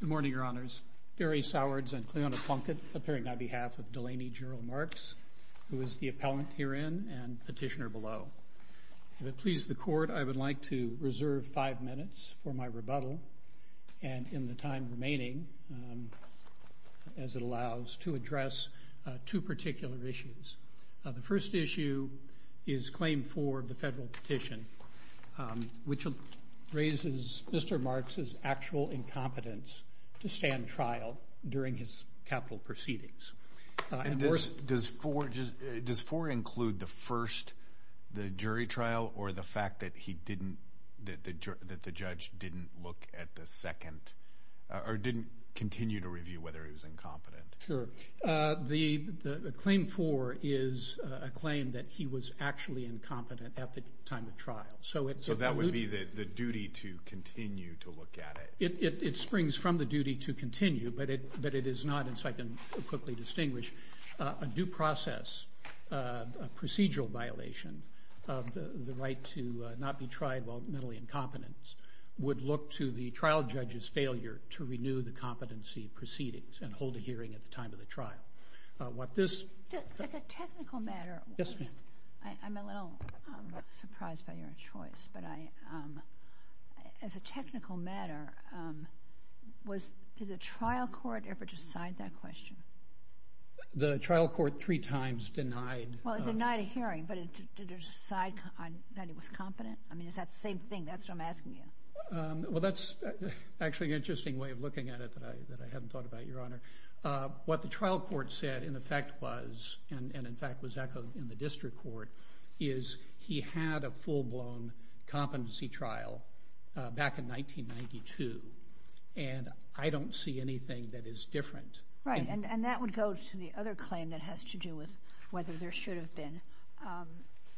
Good morning, Your Honors. Barry Sowards and Cleona Plunkett appearing on behalf of Delaney Gerald Marks, who is the appellant herein and petitioner below. If it pleases the Court, I would like to reserve five minutes for my rebuttal and in the time remaining, as it allows, to address two particular issues. The first issue is Claim 4 of the Federal Petition, which raises Mr. Marks' actual incompetence to stand trial during his capital proceedings. Does 4 include the first, the jury trial, or the fact that he didn't, that the judge didn't look at the second, or didn't continue to review whether he was incompetent? Sure. The Claim 4 is a claim that he was actually incompetent at the time of trial. So that would be the duty to continue to look at it? It springs from the duty to continue, but it is not, as I can quickly distinguish, a due process, a procedural violation of the right to not be tried while mentally incompetent would look to the trial judge's failure to renew the competency proceedings and hold a hearing at the time of the trial. As a technical matter, I'm a little surprised by your choice, but as a technical matter, did the trial court ever decide that question? The trial court three times denied. Well, it denied a hearing, but did it decide that he was competent? I mean, is that the same thing? That's what I'm asking you. Well, that's actually an interesting way of looking at it that I hadn't thought about, Your Honor. What the trial court said in effect was, and in fact was echoed in the district court, is he had a full-blown competency trial back in 1992, and I don't see anything that is different. Right, and that would go to the other claim that has to do with whether there should have been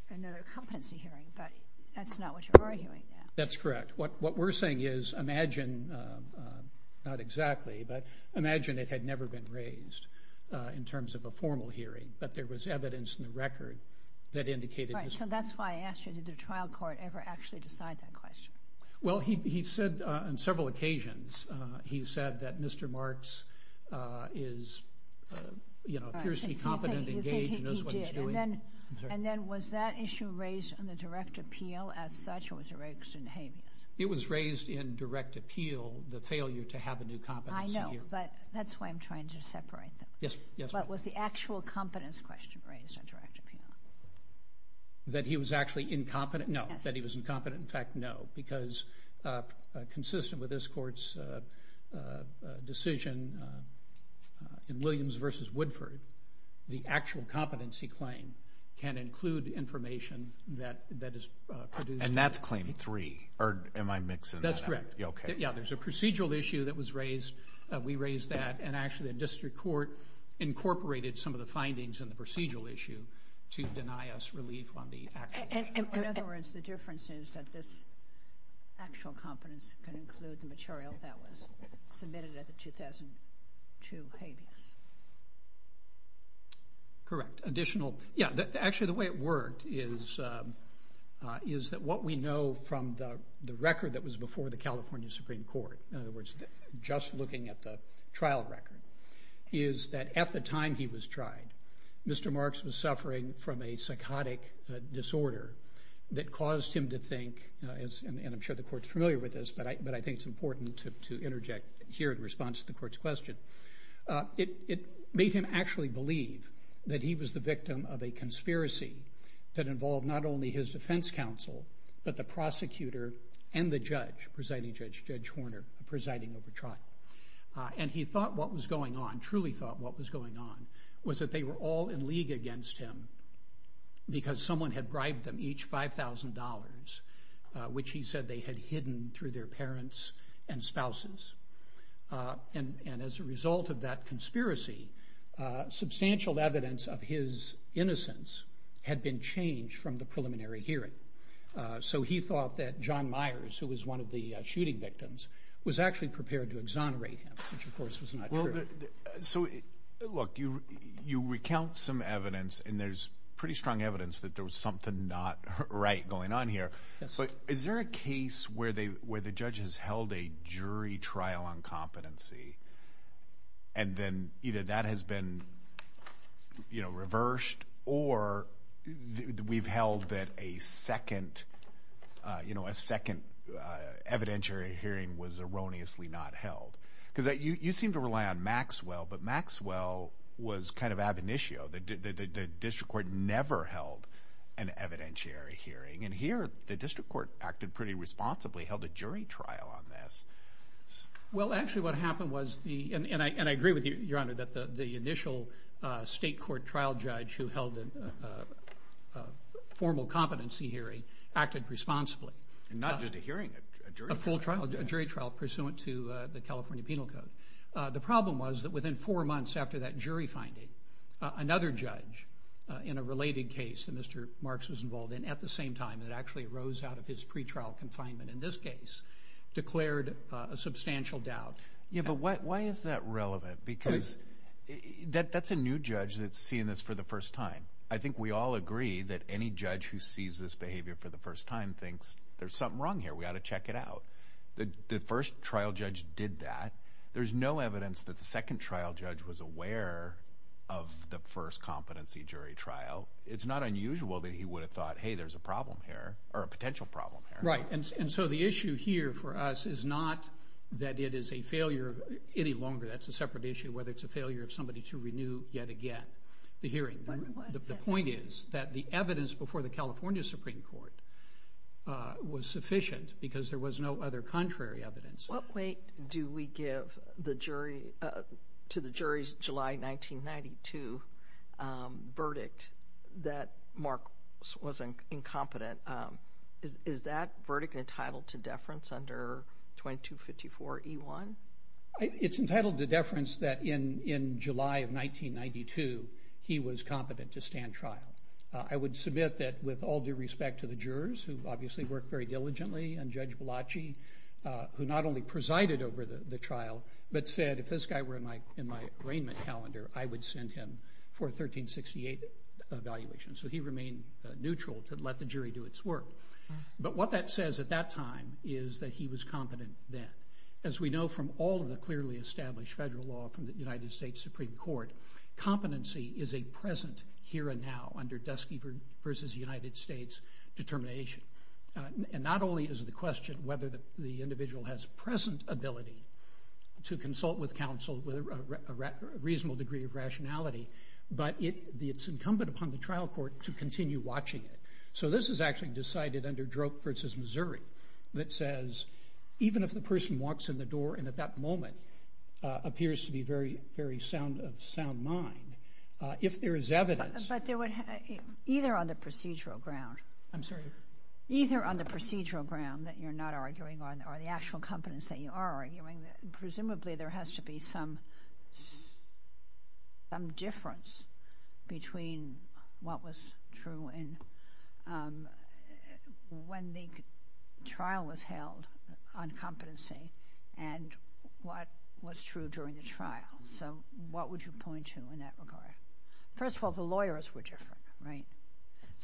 another competency hearing, but that's not what you're arguing now. That's correct. What we're saying is imagine, not exactly, but imagine it had never been raised in terms of a formal hearing, but there was evidence in the record that indicated this. Right, so that's why I asked you, did the trial court ever actually decide that question? Well, he said on several occasions, he said that Mr. Marks is, you know, appears to be competent, engaged, knows what he's doing. And then was that issue raised in the direct appeal as such, or was it raised in habeas? It was raised in direct appeal, the failure to have a new competency hearing. I know, but that's why I'm trying to separate them. Yes, Your Honor. But was the actual competence question raised in direct appeal? That he was actually incompetent? No, that he was incompetent, in fact, no, because consistent with this court's decision in Williams v. Woodford, the actual competence he claimed can include the information that is produced. And that's claim three, or am I mixing that up? That's correct. Yeah, there's a procedural issue that was raised, we raised that, and actually the district court incorporated some of the findings in the procedural issue to deny us relief on the actual issue. In other words, the difference is that this actual competence can include the material that was submitted at the 2002 habeas. Correct, additional, yeah, actually, the way it worked is that what we know from the record that was before the California Supreme Court, in other words, just looking at the trial record, is that at the time he was tried, Mr. Marks was suffering from a psychotic disorder that caused him to think, and I'm sure the court's familiar with this, but I think it's important to interject here in response to the court's question. It made him actually believe that he was the victim of a conspiracy that involved not only his defense counsel, but the prosecutor and the judge, presiding judge, Judge Horner, presiding over trial. And he thought what was going on, truly thought what was going on, was that they were all in league against him because someone had bribed them each $5,000, which he said they had hidden through their parents and spouses. And as a result of that conspiracy, substantial evidence of his innocence had been changed from the preliminary hearing. So he thought that John Myers, who was one of the shooting victims, was actually prepared to exonerate him, which of course was not true. So look, you recount some evidence, and there's pretty strong evidence that there was something not right going on here. But is there a case where the judge has held a jury trial on competency, and then either that has been reversed, or we've held that a second evidentiary hearing was erroneously not held? Because you seem to rely on Maxwell, but Maxwell was kind of ab initio. The district court never held an evidentiary hearing, and here the district court acted pretty responsibly, held a jury trial on this. Well, actually what happened was, and I agree with you, Your Honor, that the initial state court trial judge who held a formal competency hearing acted responsibly. Not just a hearing, a jury trial. A full trial, a jury trial pursuant to the California Penal Code. The problem was that within four months after that jury finding, another judge in a related case that Mr. Marks was involved in, at the same time, that actually arose out of his pretrial confinement in this case, declared a substantial doubt. Yeah, but why is that relevant? Because that's a new judge that's seeing this for the first time. I think we all agree that any judge who sees this behavior for the first time thinks, there's something wrong here, we ought to check it out. The first trial judge did that. There's no evidence that the second trial judge was aware of the first competency jury trial. It's not unusual that he would have thought, hey, there's a problem here, or a potential problem here. Right, and so the issue here for us is not that it is a failure any longer, that's a separate issue, whether it's a failure of somebody to renew yet again the hearing. The point is that the evidence before the California Supreme Court was sufficient because there was no other contrary evidence. What weight do we give to the jury's July 1992 verdict that Marks was incompetent? Is that verdict entitled to deference under 2254E1? It's entitled to deference that in July of 1992, he was competent to stand trial. I would submit that with all due respect to the jurors, who obviously worked very diligently, and Judge Balocci, who not only presided over the trial, but said, if this guy were in my arraignment calendar, I would send him for a 1368 evaluation. So he remained neutral to let the jury do its work. But what that says at that time is that he was competent then. As we know from all of the clearly established federal law from the United States Supreme Court, competency is a present here and now under Dusty versus United States determination. And not only is the question whether the individual has present ability to consult with counsel with a reasonable degree of rationality, but it's incumbent upon the trial court to continue watching it. So this is actually decided under Droke versus Missouri. That says, even if the person walks in the door and at that moment appears to be very, very sound of sound mind, if there is evidence. But they would either on the procedural ground. I'm sorry. Either on the procedural ground that you're not arguing on, or the actual competence that you are arguing. Presumably, there has to be some difference between what was true and when the trial was held on competency and what was true during the trial. So what would you point to in that regard? First of all, the lawyers were different, right?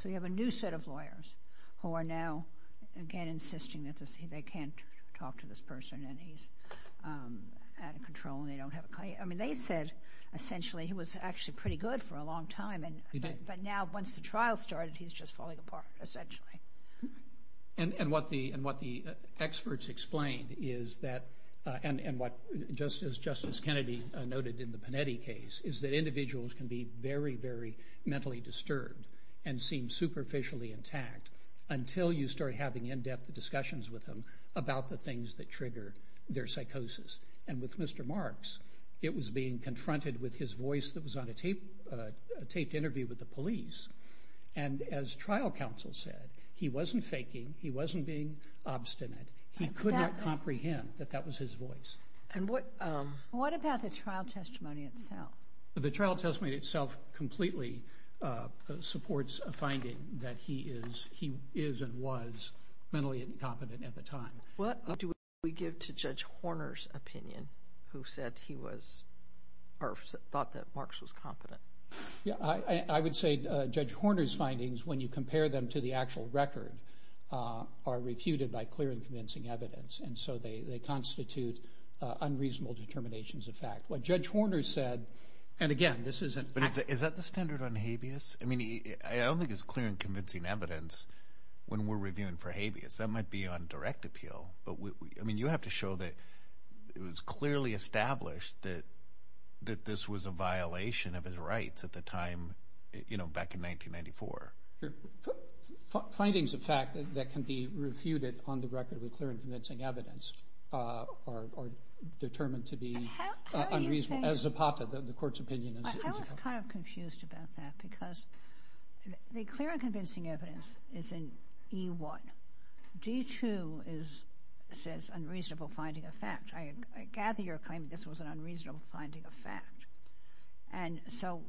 So you have a new set of lawyers who are now, again, insisting that they can't talk to this person and he's out of control. I mean, they said, essentially, he was actually pretty good for a long time. But now once the trial started, he's just falling apart, essentially. And what the experts explained is that, and what Justice Kennedy noted in the Panetti case, is that individuals can be very, very mentally disturbed and seem superficially intact until you start having in-depth discussions with them about the things that trigger their psychosis. And with Mr. Marks, it was being confronted with his voice that was on a taped interview with the police. And as trial counsel said, he wasn't faking. He wasn't being obstinate. He couldn't comprehend that that was his voice. And what about the trial testimony itself? The trial testimony itself completely supports a finding that he is and was mentally incompetent at the time. What do we give to Judge Horner's opinion, who said he was, or thought that Marks was competent? Yeah, I would say Judge Horner's findings, when you compare them to the actual record, are refuted by clear and convincing evidence. And so they constitute unreasonable determinations of fact. What Judge Horner said, and again, this isn't... But is that the standard on habeas? I mean, I don't think it's clear and convincing evidence when we're reviewing for habeas. That might be on direct appeal. But I mean, you have to show that it was clearly established that this was a violation of his rights at the time, you know, back in 1994. Your findings of fact that can be refuted on the record with clear and convincing evidence are determined to be unreasonable as a part of the court's opinion. I was kind of confused about that because the clear and convincing evidence is in E1. D2 says unreasonable finding of fact. I gather your claim that this was an unreasonable finding of fact. And so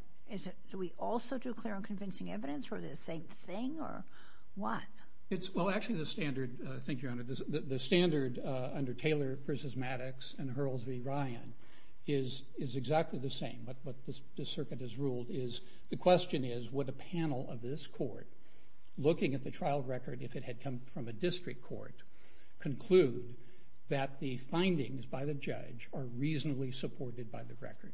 do we also do clear and convincing evidence, or the same thing, or what? It's... Well, actually, the standard... Thank you, Your Honor. The standard under Taylor v. Maddox and Hurls v. Ryan is exactly the same. But the circuit is ruled is... The question is, would a panel of this court, looking at the trial record, if it had come from a district court, conclude that the findings by the judge are reasonably supported by the record?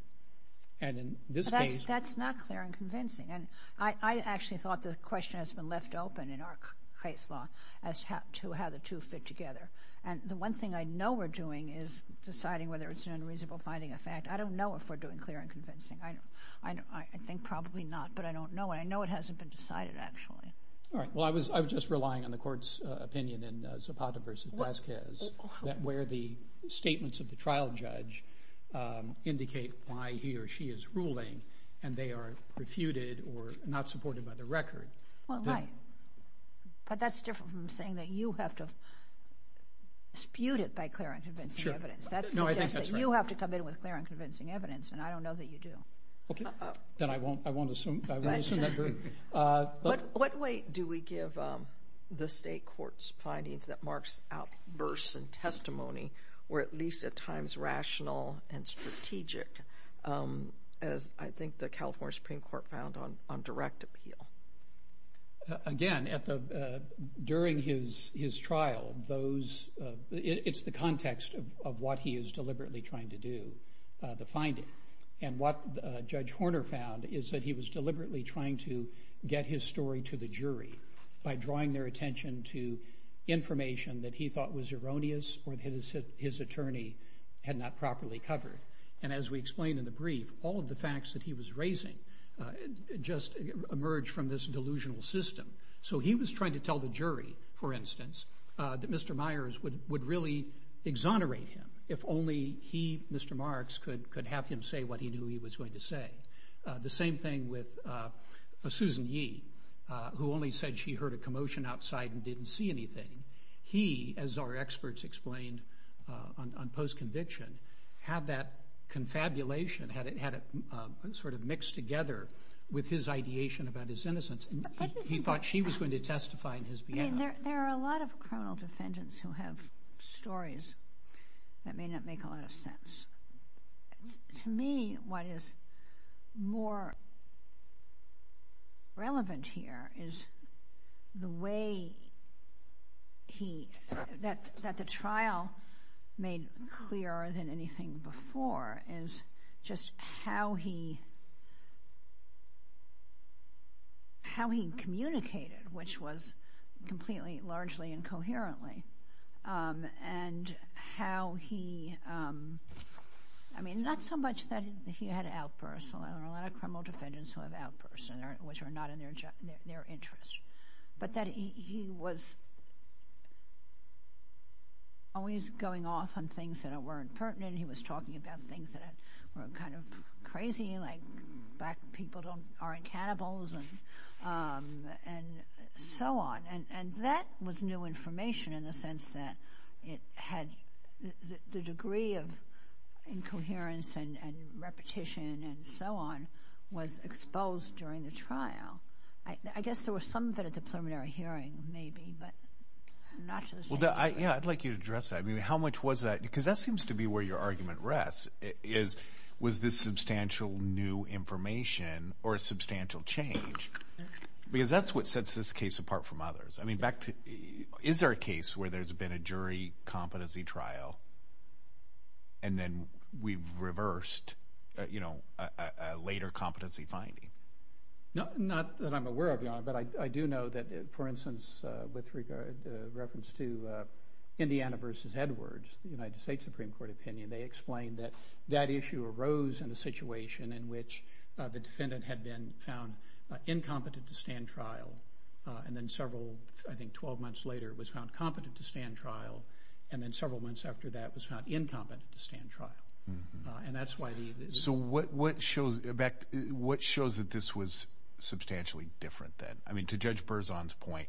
And in this case... That's not clear and convincing. And I actually thought the question has been left open in our case law as to how the two fit together. And the one thing I know we're doing is deciding whether it's an unreasonable finding of fact. I don't know if we're doing clear and convincing. I think probably not, but I don't know. And I know it hasn't been decided, actually. All right. Well, I was just relying on the court's opinion in Zapata v. Vasquez, where the statements of the trial judge indicate why he or she is ruling, and they are refuted or not supported by the record. Well, right. But that's different from saying that you have to dispute it by clear and convincing evidence. Sure. No, I think that's right. You have to come in with clear and convincing evidence, and I don't know that you do. Then I won't assume that. But what weight do we give the state court's findings that marks outbursts in testimony, or at least at times rational and strategic, as I think the California Supreme Court found on direct appeal? Again, during his trial, it's the context of what he is deliberately trying to do, the finding. And what Judge Horner found is that he was deliberately trying to get his story to the jury by drawing their attention to information that he thought was erroneous or that his attorney had not properly covered. And as we explained in the brief, all of the facts that he was raising just emerged from this delusional system. So he was trying to tell the jury, for instance, that Mr. Myers would really exonerate him if only he, Mr. Marks, could have him say what he knew he was going to say. The same thing with Susan Yee, who only said she heard a commotion outside and didn't see anything. He, as our experts explained on post-conviction, had that confabulation, had it sort of mixed together with his ideation about his innocence. He thought she was going to testify in his behalf. There are a lot of criminal defendants who have stories that may not make a lot of sense. To me, what is more relevant here is the way that the trial made clearer than anything before is just how he communicated, which was completely, largely incoherently, and how he, I mean, not so much that he had outbursts. There are a lot of criminal defendants who have outbursts, which are not in their interest. But that he was always going off on things that weren't pertinent. He was talking about things that were kind of crazy, like black people aren't cannibals, and so on. And that was new information in the sense that it had the degree of incoherence and repetition and so on was exposed during the trial. I guess there was some bit of a preliminary hearing, maybe, but not necessarily. Well, yeah, I'd like you to address that. How much was that? Because that seems to be where your argument rests, was this substantial new information or substantial change? Because that's what sets this case apart from others. I mean, is there a case where there's been a jury competency trial and then we've reversed a later competency finding? Not that I'm aware of, no, but I do know that, for instance, with reference to Indiana versus Edwards, the United States Supreme Court opinion, they explained that that issue arose in a situation in which the defendant had been found incompetent to stand trial. And then several, I think, 12 months later, was found competent to stand trial. And then several months after that was found incompetent to stand trial. And that's why the... So what shows that this was substantially different then? I mean, to Judge Berzon's point,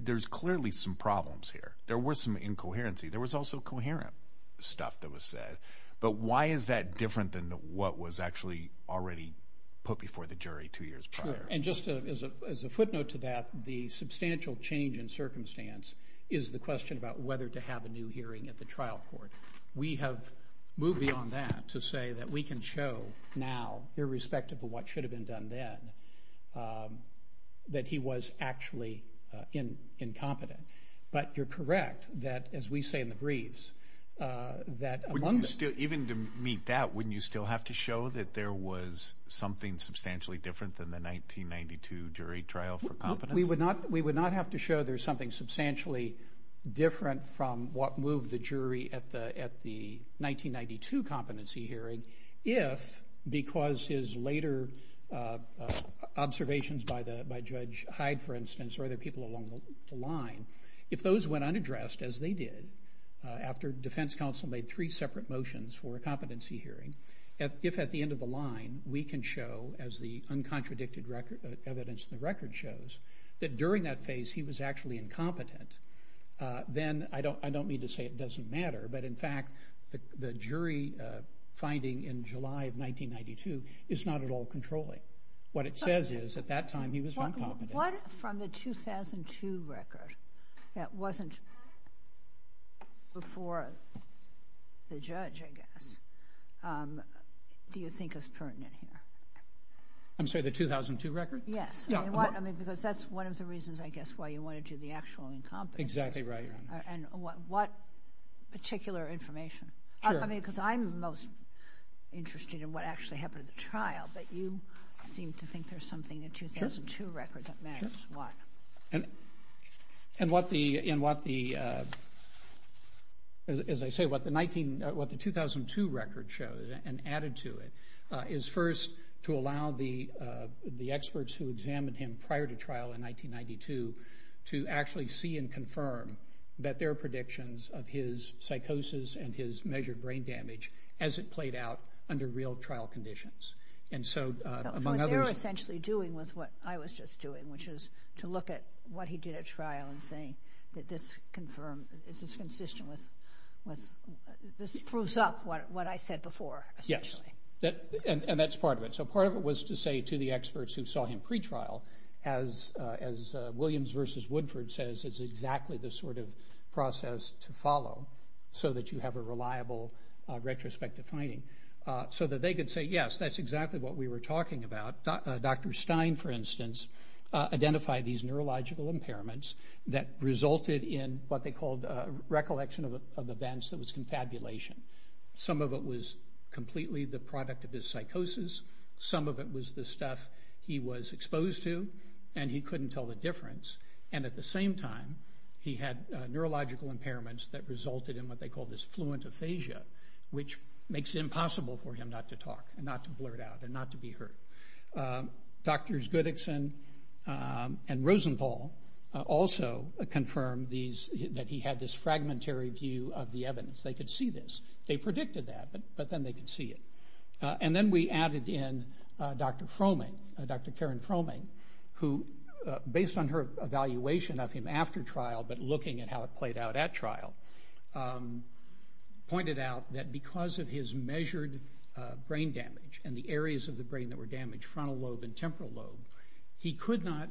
there's clearly some problems here. There was some incoherency. There was also coherent stuff that was said. But why is that different than what was actually already put before the jury two years prior? And just as a footnote to that, the substantial change in circumstance is the question about whether to have a new hearing at the trial court. We have moved beyond that to say that we can show now, irrespective of what should have been done then, that he was actually incompetent. But you're correct that, as we say in the briefs, that... Even to meet that, wouldn't you still have to show that there was something substantially different than the 1992 jury trial for competence? We would not have to show there's something substantially different from what moved the jury at the 1992 competency hearing, if, because his later observations by Judge Hyde, for instance, or other people along the line, if those went unaddressed, as they did after defense counsel made three separate motions for a competency hearing, if at the end of the line we can show, as the uncontradicted evidence in the record shows, that during that phase he was actually incompetent, then I don't need to say it doesn't matter. But in fact, the jury finding in July of 1992 is not at all controlling. What it says is, at that time, he was uncontradicted. What, from the 2002 record, that wasn't before the judge, I guess, do you think is pertinent here? I'm sorry, the 2002 record? Yes, because that's one of the reasons, I guess, why you wanted to do the actual incompetence. Exactly right. And what particular information? Sure. I mean, because I'm most interested in what actually happened at the trial, but you seem to think there's something in the 2002 record that matters. And what the, as I say, what the 19, what the 2002 record shows, and added to it, is first to allow the experts who examined him prior to trial in 1992 to actually see and confirm that their predictions of his psychosis and his measured brain damage as it played out under real trial conditions. And so, among others... What they're essentially doing was what I was just doing, which is to look at what he did at trial and saying that this confirmed, this is consistent with, this proves up what I said before, essentially. Yes, and that's part of it. Part of it was to say to the experts who saw him pre-trial, as Williams versus Woodford says, it's exactly the sort of process to follow so that you have a reliable retrospective finding, so that they could say, yes, that's exactly what we were talking about. Dr. Stein, for instance, identified these neurological impairments that resulted in what they called recollection of events that was contabulation. Some of it was completely the product of his psychosis. Some of it was the stuff he was exposed to, and he couldn't tell the difference. And at the same time, he had neurological impairments that resulted in what they called this fluent aphasia, which makes it impossible for him not to talk, and not to blurt out, and not to be heard. Drs. Goodickson and Rosenthal also confirmed that he had this fragmentary view of the evidence. They could see this. They predicted that, but then they could see it. And then we added in Dr. Fromming, Dr. Karen Fromming, who, based on her evaluation of him after trial, but looking at how it played out at trial, pointed out that because of his measured brain damage and the areas of the brain that were damaged, frontal lobe and temporal lobe, he could not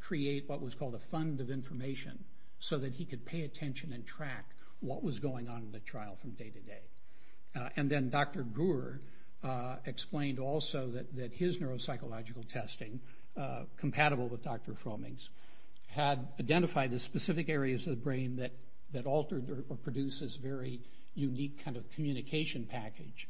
create what was called a fund of information so that he could pay attention and track what was going on in the trial from day to day. And then Dr. Guer explained also that his neuropsychological testing, compatible with Dr. Fromming's, had identified the specific areas of the brain that altered or produced this very unique kind of communication package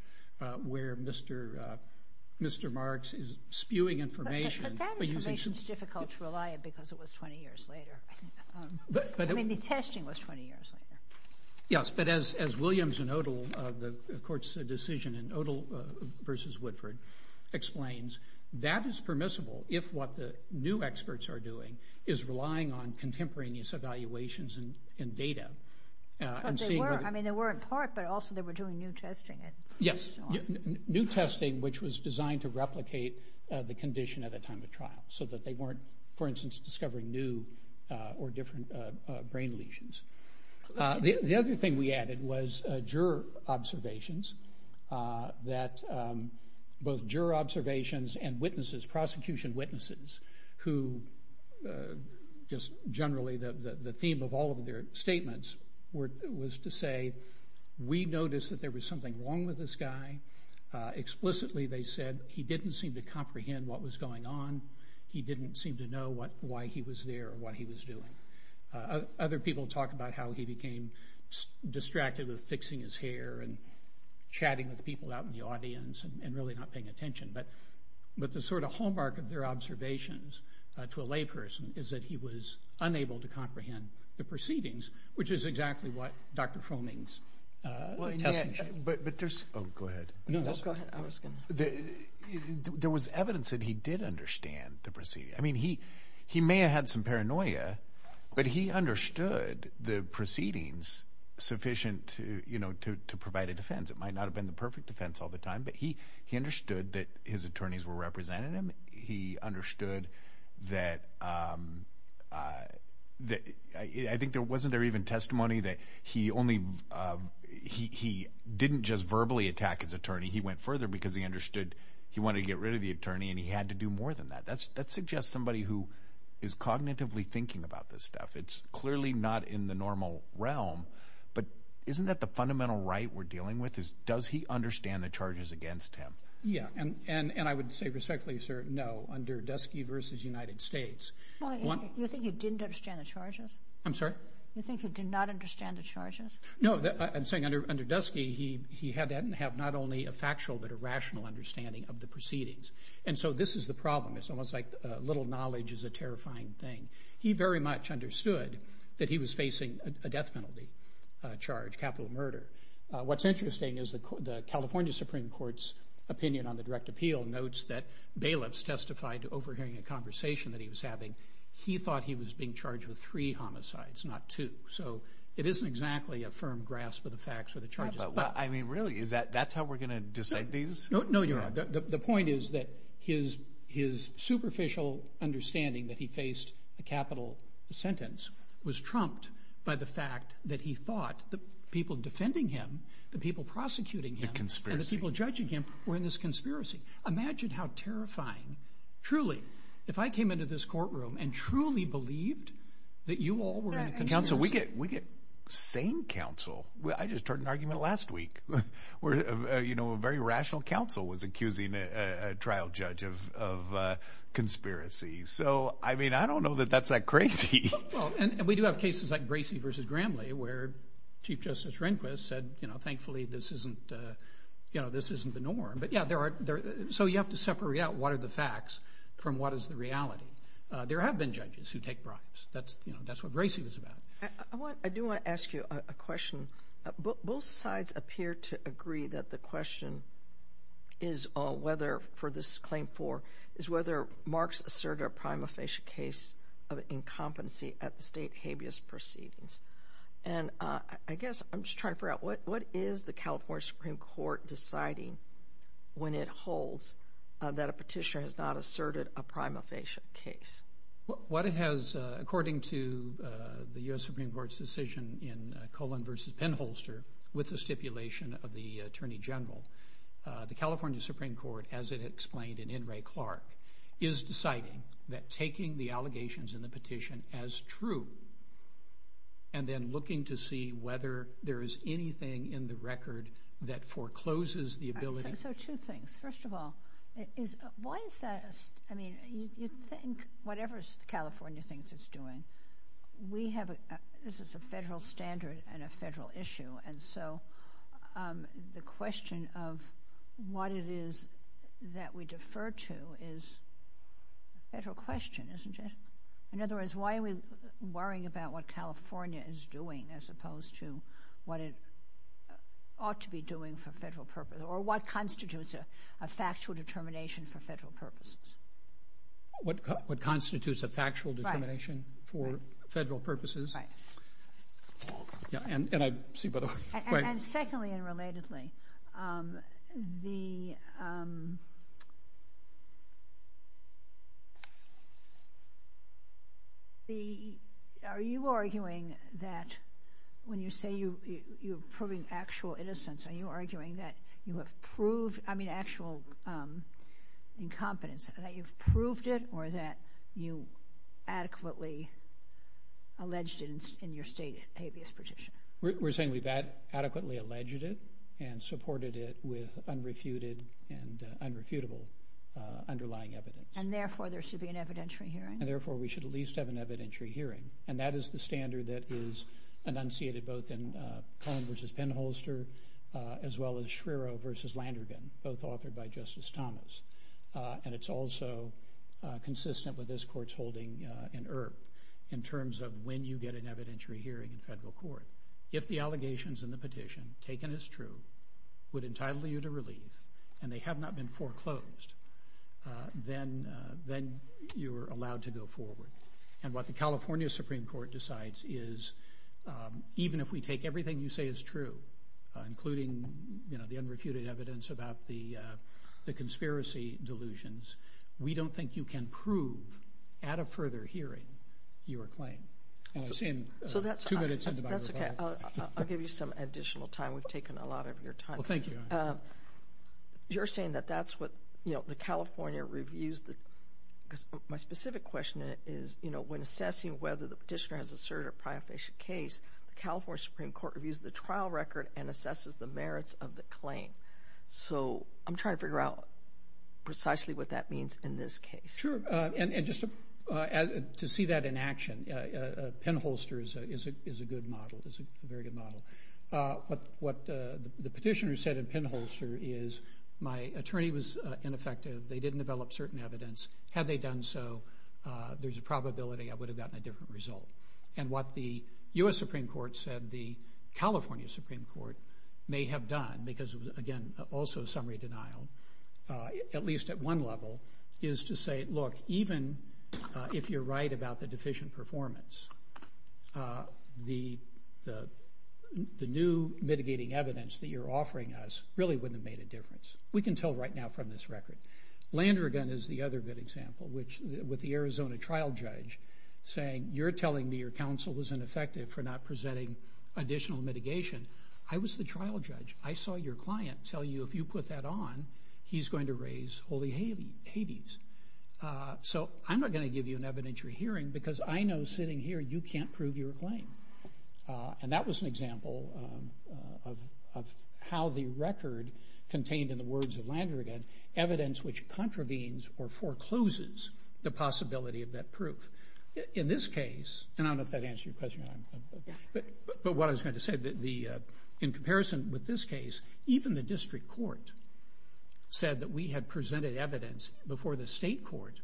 where Mr. Marks is spewing information. But that information is difficult to rely on because it was 20 years later. I mean, the testing was 20 years later. Yes, but as Williams and Odle, the court's decision in Odle versus Woodford, explains, that is permissible if what the new experts are doing is relying on contemporaneous evaluations and data. I mean, they were in part, but also they were doing new testing. Yes, new testing, which was designed to replicate the condition at a time of trial so that they could not create what was called a fund of information so that he could pay attention and track what was going on in the trial from day to day. The other thing we added was juror observations, that both juror observations and witnesses, prosecution witnesses, who just generally the theme of all of their statements was to say, we noticed that there was something wrong with this guy. Explicitly, they said, he didn't seem to comprehend what was going on. He didn't seem to know why he was there or what he was doing. Other people talk about how he became distracted with fixing his hair and chatting with people out in the audience and really not paying attention. But the sort of hallmark of their observations to a lay person is that he was unable to comprehend the proceedings, which is exactly what Dr. Cronin's. But just go ahead. There was evidence that he did understand the proceedings. He may have had some paranoia, but he understood the proceedings sufficient to provide a defense. It might not have been the perfect defense all the time, but he understood that his attorneys were representing him. He understood that I think there wasn't there even testimony that he only he didn't just verbally attack his attorney. He went further because he understood he wanted to get rid of the attorney and he had to do more than that. That suggests somebody who is cognitively thinking about this stuff. It's clearly not in the normal realm, but isn't that the fundamental right we're dealing with is does he understand the charges against him? Yeah, and I would say respectfully, sir, no, under Dusky versus United States. You think you didn't understand the charges? I'm sorry? You think you did not understand the charges? No, I'm saying under Dusky, he had that and have not only a factual, but a rational understanding of the proceedings. And so this is the problem. It's almost like little knowledge is a terrifying thing. He very much understood that he was facing a death penalty charge, capital murder. What's interesting is that the California Supreme Court's opinion on the direct appeal notes that bailiffs testified to overhearing a conversation that he was having. He thought he was being charged with three homicides, not two. So it isn't exactly a firm grasp of the facts of the charges. I mean, really, that's how we're going to decide things? No, you're right. The point is that his superficial understanding that he faced a capital sentence was trumped by the fact that he thought the people defending him, the people prosecuting him, the people judging him were in this conspiracy. Imagine how terrifying, truly, if I came into this courtroom and truly believed that you all were in a conspiracy. Counsel, we get same counsel. I just heard an argument last week where, you know, a very rational counsel was accusing a trial judge of conspiracy. So, I mean, I don't know that that's that crazy. Well, and we do have cases like Gracie versus Gramley, where Chief Justice Rehnquist said, you know, thankfully, this isn't, you know, this isn't the norm. But yeah, there are. So you have to separate out what are the facts from what is the reality. There have been judges who take bribes. That's, you know, that's what Gracie was about. I do want to ask you a question. Both sides appear to agree that the question is whether, for this claim four, is whether Marx asserted a prima facie case of incompetency at the state habeas proceedings. And I guess I'm just trying to figure out what is the California Supreme Court deciding when it holds that a petitioner has not asserted a prima facie case? What it has, according to the U.S. Supreme Court's decision in Colin versus Penholster, with the stipulation of the Attorney General, the California Supreme Court, as it explained in In re Clark, is deciding that taking the allegations in the petition as true, and then looking to see whether there is anything in the record that forecloses the ability. So two things, first of all, is why is that? I mean, you think whatever California thinks it's doing, we have, this is a federal standard and a federal issue. And so the question of what it is that we defer to is a federal question, isn't it? In other words, why are we worrying about what California is doing as opposed to what it ought to be doing for federal purposes? Or what constitutes a factual determination for federal purposes? What constitutes a factual determination for federal purposes? Right. Yeah, and I see, but... And secondly, and relatedly, the... Are you arguing that when you say you're proving actual innocence, are you arguing that you have proved, I mean, actual incompetence, that you've proved it or that you adequately alleged it in your stated habeas petition? We're saying we've adequately alleged it and supported it with unrefuted and unrefutable underlying evidence. And therefore, there should be an evidentiary hearing? And therefore, we should at least have an evidentiary hearing. And that is the standard that is enunciated both in Cohen versus Penholster, as well as Schreiro versus Landrigan, both authored by Justice Thomas. And it's also consistent with this court's holding in IRP in terms of when you get an evidentiary hearing in federal court. If the allegations in the petition taken as true would entitle you to relief, and they have not been foreclosed, then you're allowed to go forward. And what the California Supreme Court decides is, even if we take everything you say is true, including the unrefuted evidence about the conspiracy delusions, we don't think you can prove at a further hearing your claim. I'm seeing two minutes into my report. That's okay. I'll give you some additional time. We've taken a lot of your time. Well, thank you. You're saying that that's what the California reviews. My specific question is, when assessing whether the petitioner has asserted a prior case, the California Supreme Court reviews the trial record and assesses the merits of the claim. So I'm trying to figure out precisely what that means in this case. Sure. And just to see that in action, Penholster is a good model. It's a very good model. But what the petitioner said in Penholster is, my attorney was ineffective. They didn't develop certain evidence. Had they done so, there's a probability I would have gotten a different result. And what the U.S. Supreme Court said the California Supreme Court may have done, because, again, also a summary denial, at least at one level, is to say, look, even if you're right about the deficient performance, the new mitigating evidence that you're offering us really wouldn't have made a difference. We can tell right now from this record. Landrigan is the other good example, which, with the Arizona trial judge saying, you're telling me your counsel was ineffective for not presenting additional mitigation. I was the trial judge. I saw your client tell you if you put that on, he's going to raise holy havens. So I'm not going to give you an evidentiary hearing, because I know sitting here, you can't prove your claim. And that was an example of how the record contained, in the words of Landrigan, evidence which contravenes or forecloses the possibility of that proof. In this case, and I don't know if that answered your question. But what I was going to say, in comparison with this case, even the district court said that we had presented evidence before the state court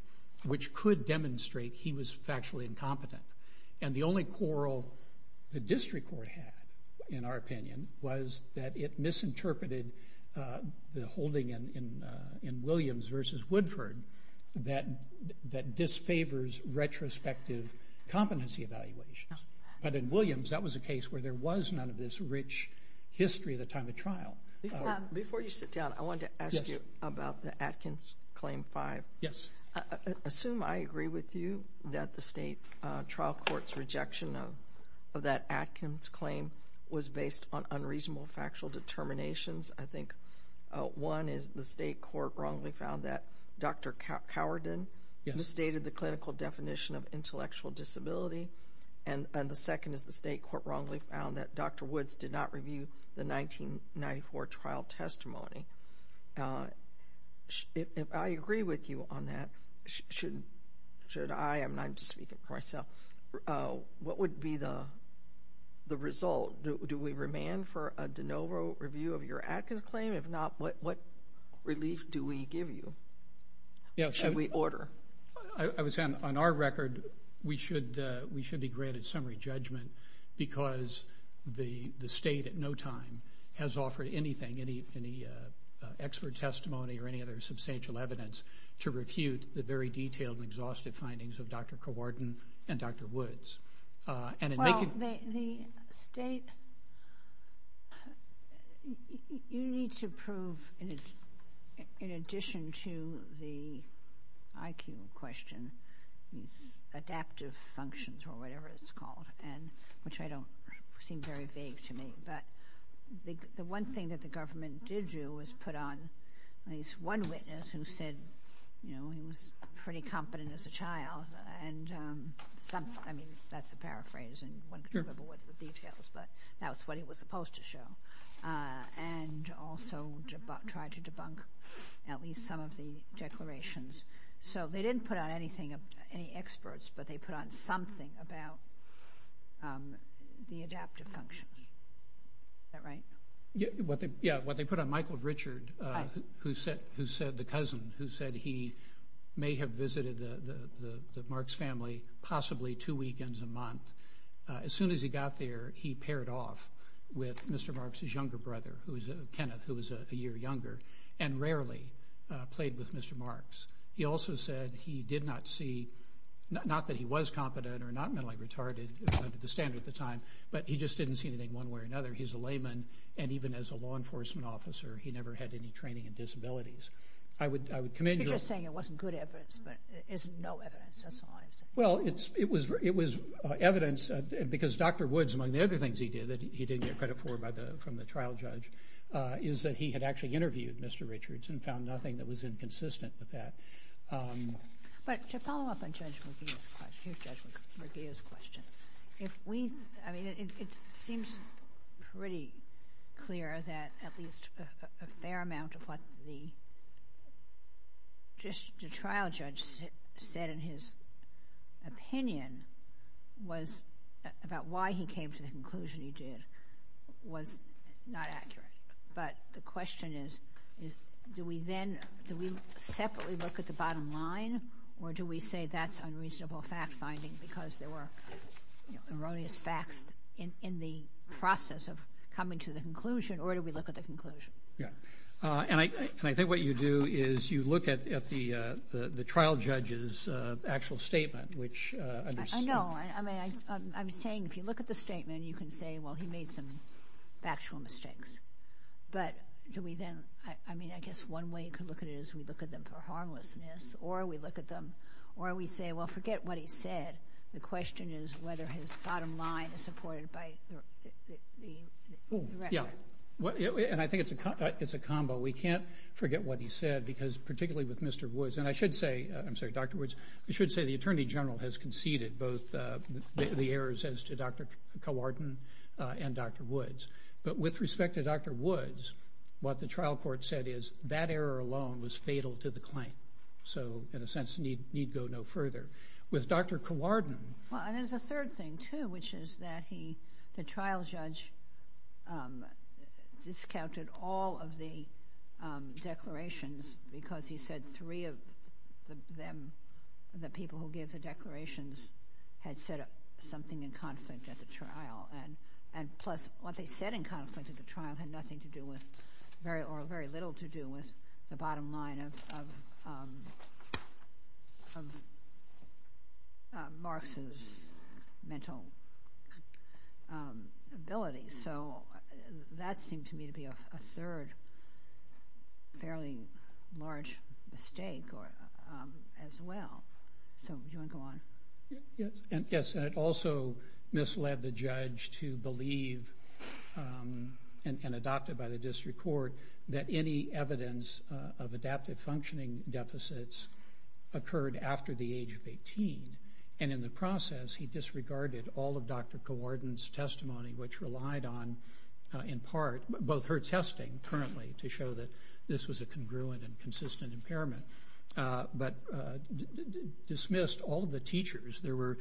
which could demonstrate he was factually incompetent. And the only quarrel the district court had, in our opinion, was that it misinterpreted the holding in Williams versus Woodford that disfavors retrospective competency evaluations. But in Williams, that was a case where there was none of this rich history of the time of trial. Before you sit down, I wanted to ask you about the Atkins Claim 5. Yes. Assume I agree with you that the state trial court's rejection of that Atkins claim was based on unreasonable factual determinations. I think one is the state court wrongly found that Dr. Cowardin misstated the clinical definition of intellectual disability. And the second is the state court wrongly found that Dr. Woods did not review the 1994 trial testimony. If I agree with you on that, should I, and I'm just speaking for myself, what would be the result? Do we remand for a de novo review of your Atkins claim? If not, what relief do we give you? Yes. And we order. I would say on our record, we should be granted summary judgment because the state at no time has offered anything, any expert testimony or any other substantial evidence to refute the very detailed and exhaustive findings of Dr. Cowardin and Dr. Woods. Well, the state, you need to prove in addition to the IQ question, adaptive functions or whatever it's called, and which I don't seem very vague to me, but the one thing that the government did do was put on at least one witness who said, you know, he was pretty competent as a child. And I mean, that's a paraphrase and details, but that's what it was supposed to show. And also to try to debunk at least some of the declarations. So they didn't put on anything, any experts, but they put on something about the adaptive function. Is that right? Yeah. What they put on Michael Richard, who said, who said the cousin who said he may have visited the Marks family, possibly two weekends a month. As soon as he got there, he paired off with Mr. Marks, his younger brother, who is Kenneth, who was a year younger and rarely played with Mr. Marks. He also said he did not see, not that he was competent or not mentally retarded at the standard at the time, but he just didn't see anything one way or another. He's a layman. And even as a law enforcement officer, he never had any training in disabilities. I would, I would commend you saying it wasn't good evidence, but it's no evidence. That's honest. Well, it's, it was, it was evidence because Dr. Woods, among the other things he did that he didn't get credit for by the, from the trial judge is that he had actually interviewed Mr. Richards and found nothing that was inconsistent with that. But to follow up on Judge Medea's question, if we, I mean, it seems pretty clear that at least a fair amount of what the, just the trial judge said in his opinion was about why he came to the conclusion he did was not accurate. But the question is, is, do we then, do we separately look at the bottom line or do we say that's unreasonable fact finding because there were erroneous facts in the process of coming to the conclusion or do we look at the conclusion? Yeah. And I, and I think what you do is you look at, at the, the, the trial judge's actual statement, which I know, I mean, I'm saying if you look at the statement, you can say, well, he made some factual mistakes. But do we then, I mean, I guess one way to look at it is we look at them for harmlessness or we look at them or we say, well, forget what he said. The question is whether his bottom line is supported by the, the, the record. Yeah. And I think it's a, it's a combo. We can't forget what he said because particularly with Mr. Woods, and I should say, I'm sorry, Dr. Woods, I should say the Attorney General has conceded both the errors as to Dr. Cowartin and Dr. Woods. But with respect to Dr. Woods, what the trial court said is that error alone was fatal to the claim. So in a sense, need, need go no further. With Dr. Cowartin. Well, and there's a third thing too, which is that he, the trial judge discounted all of the declarations because he said three of them, the people who gave the declarations had said something in conflict at the trial. And, and plus what they said in conflict at the trial had nothing to do with very, or very little to do with the bottom line of, of, of Marx's mental ability. So that seems to me to be a third fairly large mistake or as well. So do you want to go on? Yes. Yes. And it also misled the judge to believe and adopted by the district court that any evidence of adaptive functioning deficits occurred after the age of 18. And in the process, he disregarded all of Dr. Cowartin's testimony, which relied on in part, both her testing currently to show that this was a congruent and consistent impairment. But dismissed all of the teachers. There were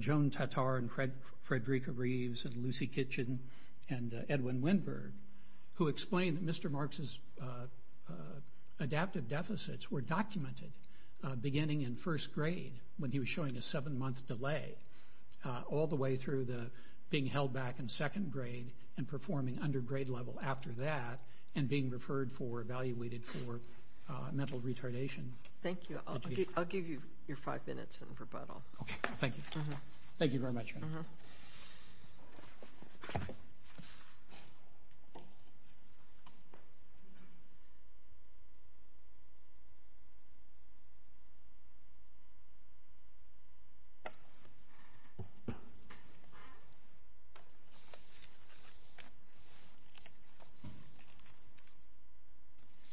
Joan Tatar and Fred, Frederica Reeves and Lucy Kitchen and Edwin Winberg, who explained Mr. Marx's adaptive deficits were documented beginning in first grade when he was showing a seven month delay, all the way through the being held back in second grade and performing under grade level after that, and being referred for evaluated for mental retardation. Thank you. I'll give you your five minutes and rebuttal. Okay. Thank you. Thank you very much. Uh-huh.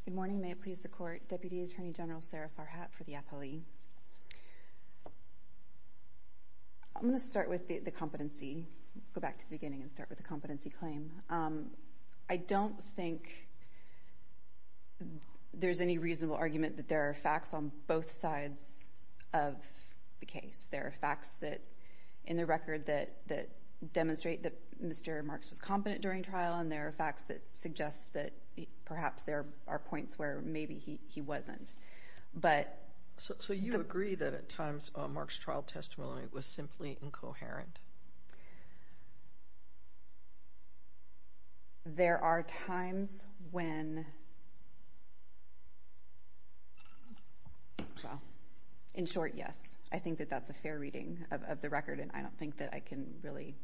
Good morning. May it please the court. Deputy Attorney General Sara Farhat for the FLE. I'm going to start with the competency, go back to the beginning and start with the competency claim. I don't think there's any reasonable argument that there are facts on both sides of the case. There are facts that in the record that demonstrate that Mr. Marx was competent during trial, and there are facts that suggest that perhaps there are points where maybe he wasn't. But- So you agree that at times Marx's trial testimony was simply incoherent? There are times when, well, in short, yes. I think that that's a fair reading of the record, and I don't think that I can really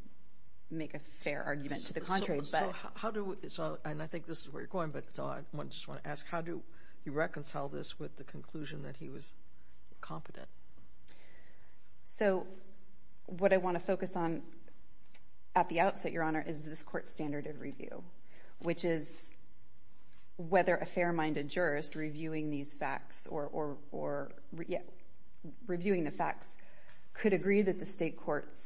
make a fair argument to the contrary, but- How do we, and I think this is where you're going, but I just want to ask, how do you the conclusion that he was competent? So what I want to focus on at the outset, Your Honor, is this court standard of review, which is whether a fair-minded jurist reviewing these facts or reviewing the facts could agree that the state court's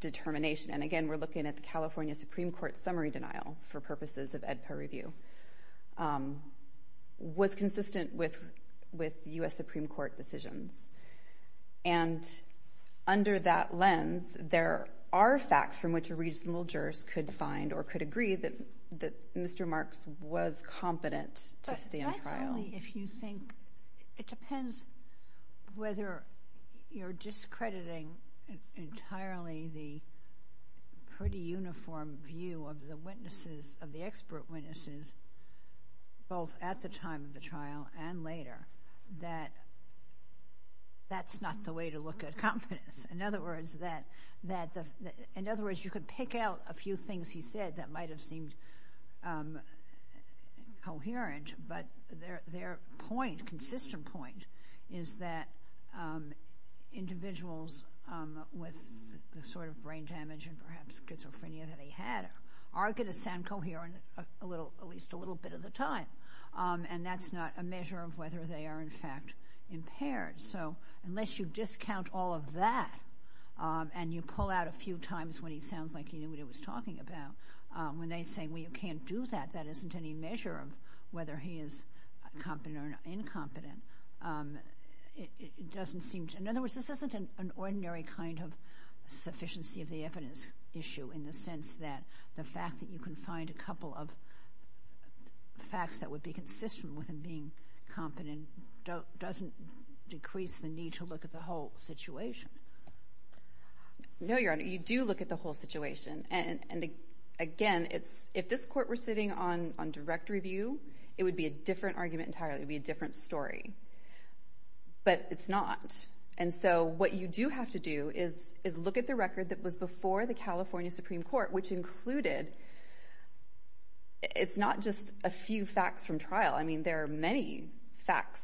determination, and again, we're looking at the California Supreme Court summary denial for purposes of EDPA review, was consistent with U.S. Supreme Court decisions. And under that lens, there are facts from which a reasonable jurist could find or could agree that Mr. Marx was competent to stand trial. Actually, if you think, it depends whether you're discrediting entirely the pretty uniform view of the witnesses, of the expert witnesses, both at the time of the trial and later, that that's not the way to look at competence. In other words, you could pick out a few things he said that might have seemed coherent, but their point, consistent point, is that individuals with the sort of brain damage and perhaps schizophrenia that he had are going to sound coherent at least a little bit of the time. And that's not a measure of whether they are, in fact, impaired. So unless you discount all of that and you pull out a few times when he sounds like he knew what he was talking about, when they say, well, you can't do that, that isn't any measure of whether he is competent or incompetent, it doesn't seem to. In other words, this isn't an ordinary kind of sufficiency of the evidence issue in the sense that the fact that you can find a couple of facts that would be consistent with him being competent doesn't decrease the need to look at the whole situation. No, Your Honor, you do look at the whole situation. And again, if this court were sitting on direct review, it would be a different argument entirely, it would be a different story. But it's not. And so what you do have to do is look at the record that was before the California Supreme Court, which included, it's not just a few facts from trial. I mean, there are many facts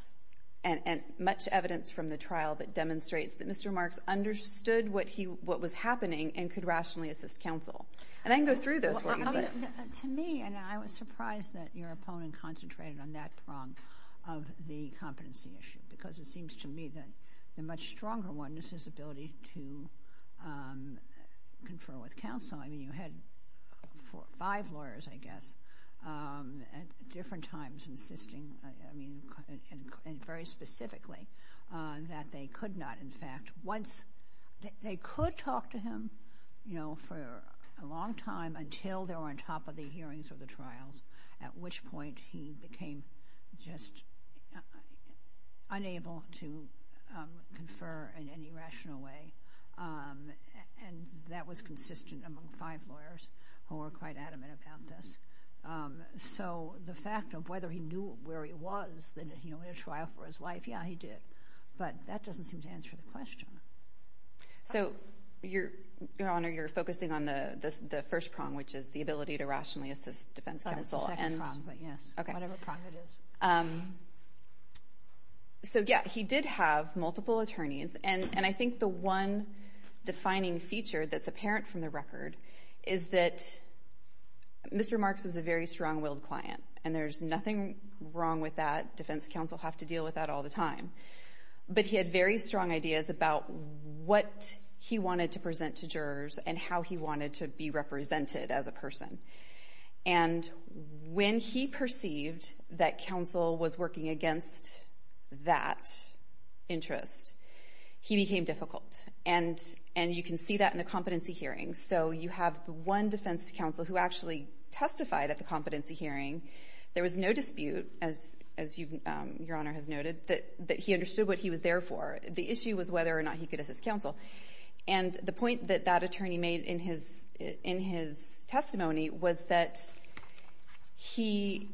and much evidence from the trial that demonstrates that Mr. Marks understood what was happening and could rationally assist counsel. And I can go through this. To me, and I was surprised that your opponent concentrated on that from the competency issue, because it seems to me that the much stronger one is his ability to confer with counsel. I mean, you had five lawyers, I guess, at different times insisting, I mean, and very specifically, that they could not, in fact, once they could talk to him, you know, for a long time until they were on top of the hearings or the trials, at which point he became just unable to confer in any rational way. And that was consistent among five lawyers who were quite adamant about this. So the fact of whether he knew where he was, that he only had a trial for his life, yeah, he did. But that doesn't seem to answer the question. So, Your Honor, you're focusing on the first prong, which is the ability to rationally assist defense counsel. That's a prong, but yes, whatever prong it is. So, yeah, he did have multiple attorneys. And I think the one defining feature that's apparent from the record is that Mr. Marks was a very strong-willed client. And there's nothing wrong with that. Defense counsel have to deal with that all the time. But he had very strong ideas about what he wanted to present to jurors and how he wanted to be represented as a person. And when he perceived that counsel was working against that interest, he became difficult. And you can see that in the competency hearing. So you have one defense counsel who actually testified at the competency hearing. There was no dispute, as Your Honor has noted, that he understood what he was there for. The issue was whether or not he could assist counsel. And the point that that attorney made in his testimony was that he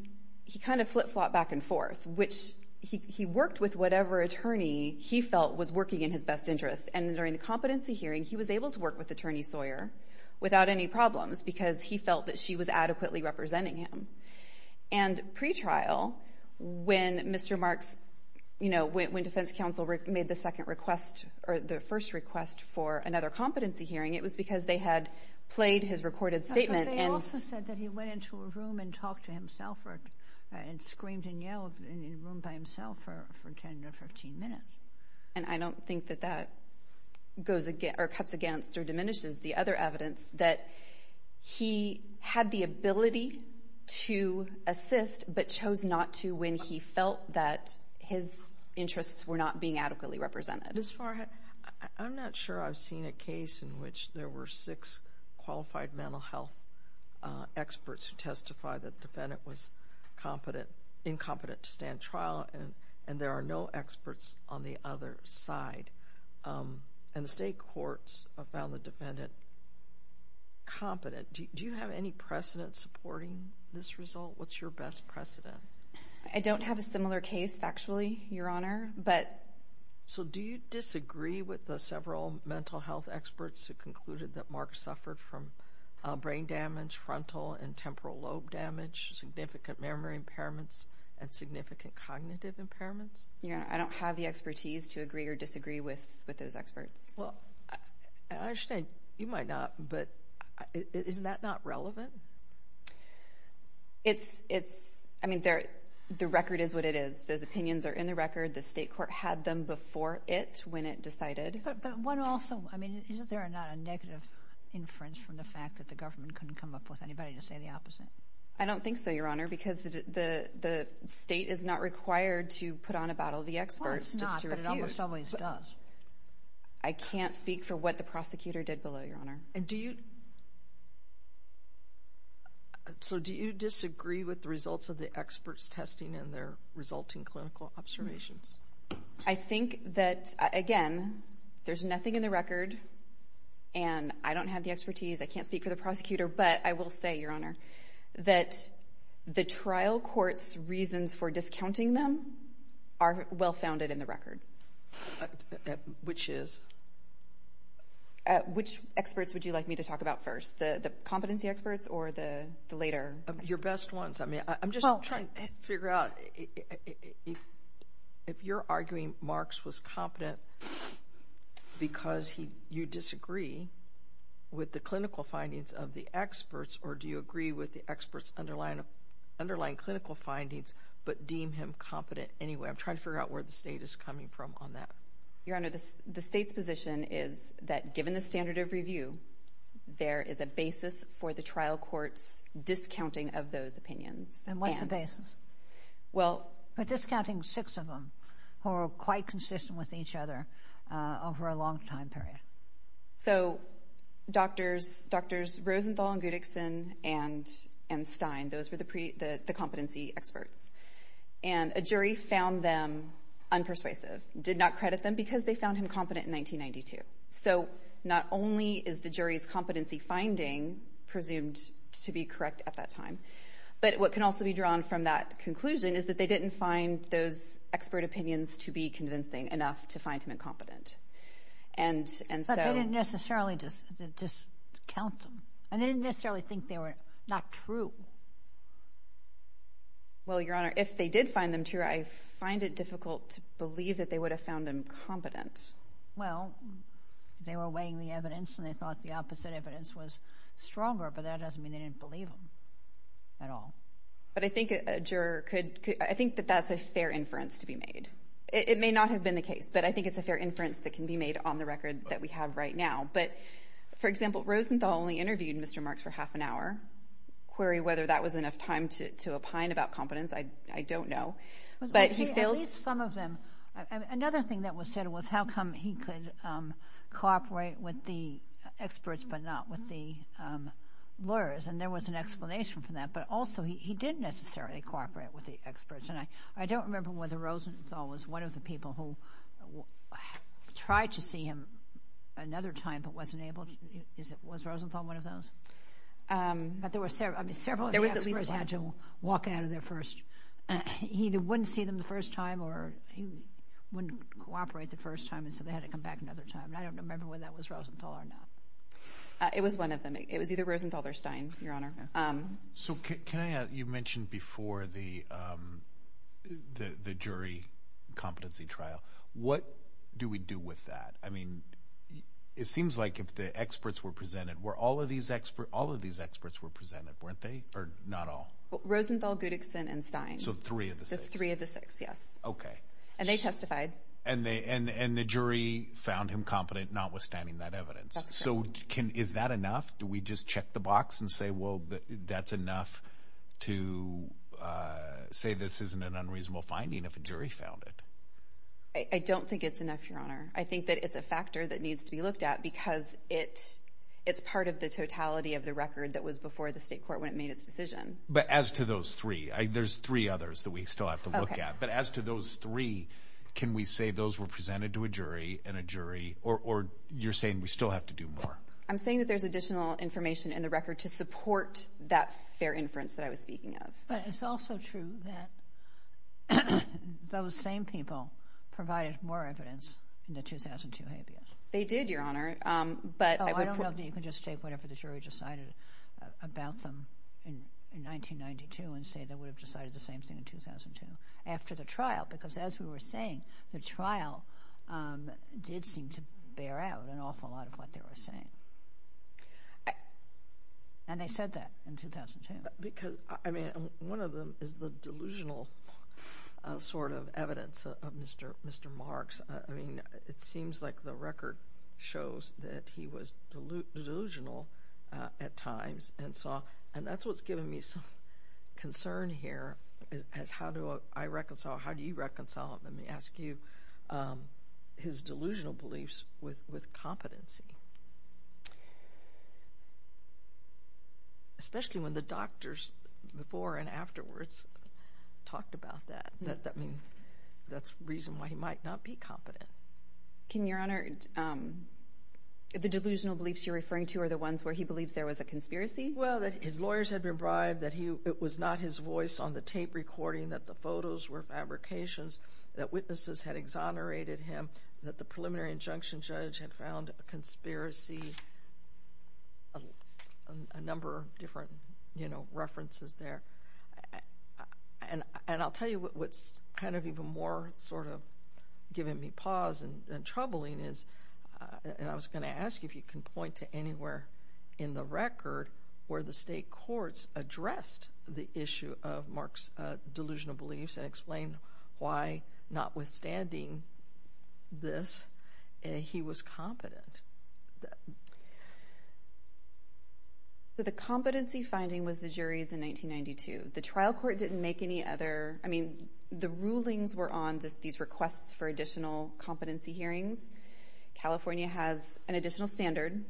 kind of flip-flopped back and forth, which he worked with whatever attorney he felt was working in his best interest. And during the competency hearing, he was able to work with Attorney Sawyer without any problems because he felt that she was adequately representing him. And pre-trial, when Mr. Marks, you know, when defense counsel made the second request, or the first request for another competency hearing, it was because they had played his recorded statement. But they also said that he went into a room and talked to himself and screamed and yelled in a room by himself for 10 or 15 minutes. And I don't think that that goes against or cuts against or diminishes the other evidence that he had the ability to assist but chose not to when he felt that his interests were not being adequately represented. As far as I'm not sure I've seen a case in which there were six qualified mental health experts who testified that the defendant was incompetent to stand trial and there are no experts on the other side. And the state courts have found the defendant competent. Do you have any precedent supporting this result? What's your best precedent? I don't have a similar case, actually, Your Honor, but. So do you disagree with the several mental health experts who concluded that Marks suffered from brain damage, frontal and temporal lobe damage, significant memory impairments, and significant cognitive impairments? You know, I don't have the expertise to agree or disagree with those experts. Well, I understand you might not, but is that not relevant? It's, I mean, the record is what it is. Those opinions are in the record. The state court had them before it when it decided. But one also, I mean, isn't there a negative inference from the fact that the government couldn't come up with anybody to say the opposite? I don't think so, Your Honor, because the state is not required to put on a battle of the experts. Well, it's not, but it almost always does. I can't speak for what the prosecutor did below, Your Honor. And do you, so do you disagree with the results of the experts testing and their resulting clinical observations? I think that, again, there's nothing in the record and I don't have the expertise. I can't speak for the prosecutor, but I will say, Your Honor, that the trial court's reasons for discounting them are well-founded in the record. Which is? Which experts would you like me to talk about first, the competency experts or the later? Your best ones. I mean, I'm just trying to figure out if you're arguing Marx was competent because you disagree with the clinical findings of the experts, or do you agree with the experts underlying clinical findings but deem him competent anyway? I'm trying to figure out where the state is coming from on that. Your Honor, the state's position is that given the standard of review, there is a basis for the trial court's discounting of those opinions. And what's the basis? Well. By discounting six of them who are quite consistent with each other over a long time period. So, Drs. Rosenthal and Goodickson and Stein, those were the competency experts. And a jury found them unpersuasive, did not credit them because they found him competent in 1992. So, not only is the jury's competency finding presumed to be correct at that time, but what can also be drawn from that conclusion is that they didn't find those expert opinions to be convincing enough to find him incompetent. But they didn't necessarily discount them. And they didn't necessarily think they were not true. Well, Your Honor, if they did find them true, I find it difficult to believe that they would have found him competent. Well, they were weighing the evidence and they thought the opposite evidence was stronger, but that doesn't mean they didn't believe him at all. But I think a juror could – I think that that's a fair inference to be made. It may not have been the case, but I think it's a fair inference that can be made on the record that we have right now. But, for example, Rosenthal only interviewed Mr. Marks for half an hour. Query whether that was enough time to opine about competence, I don't know. But he still – At least some of them – another thing that was said was how come he could cooperate with the experts but not with the lawyers. And there was an explanation for that. But also, he didn't necessarily cooperate with the experts. I don't remember whether Rosenthal was one of the people who tried to see him another time but wasn't able to. Was Rosenthal one of those? But there were several experts who had to walk out of there first. He either wouldn't see them the first time or he wouldn't cooperate the first time, and so they had to come back another time. And I don't remember whether that was Rosenthal or not. It was one of them. It was either Rosenthal or Stein, Your Honor. So can I – you mentioned before the jury competency trial. What do we do with that? I mean, it seems like if the experts were presented – were all of these experts – all of these experts were presented, weren't they? Or not all? Rosenthal, Goodickson, and Stein. So three of the six? Three of the six, yes. Okay. And they testified. And they – and the jury found him competent notwithstanding that evidence. So can – is that enough? Do we just check the box and say, well, that's enough to say this isn't an unreasonable finding if a jury found it? I don't think it's enough, Your Honor. I think that it's a factor that needs to be looked at because it's part of the totality of the record that was before the state court when it made its decision. But as to those three – there's three others that we still have to look at. Okay. But as to those three, can we say those were presented to a jury and a jury – or you're saying we still have to do more? I'm saying that there's additional information in the record to support that fair inference that I was speaking of. But it's also true that those same people provided more evidence in the 2002 habeas. They did, Your Honor, but I would – So I don't know that you can just take whatever the jury decided about them in 1992 and say they would have decided the same thing in 2002 after the trial, because as we were saying, the trial did seem to bear out an awful lot of what they were saying. And they said that in 2002. Because, I mean, one of them is the delusional sort of evidence of Mr. Marks. I mean, it seems like the record shows that he was delusional at times, and so – and that's what's giving me some concern here is how do I reconcile – how do you reconcile – let me ask you – his delusional beliefs with competency? Especially when the doctors before and afterwards talked about that. I mean, that's the reason why he might not be competent. Can Your Honor – the delusional beliefs you're referring to are the ones where he believes there was a conspiracy? Well, that his lawyers had been bribed, that he – it was not his voice on the tape recording, that the photos were fabrications, that witnesses had exonerated him, that the preliminary injunction judge had found a conspiracy – a number of different, you know, references there. And I'll tell you what's kind of even more sort of giving me pause and troubling is – and I was going to ask you if you can point to anywhere in the record where the state courts addressed the issue of Mark's delusional beliefs and explained why, notwithstanding this, he was competent. So the competency finding was the jury's in 1992. The trial court didn't make any other – I mean, the rulings were on just these requests for additional competency hearings. California has an additional standard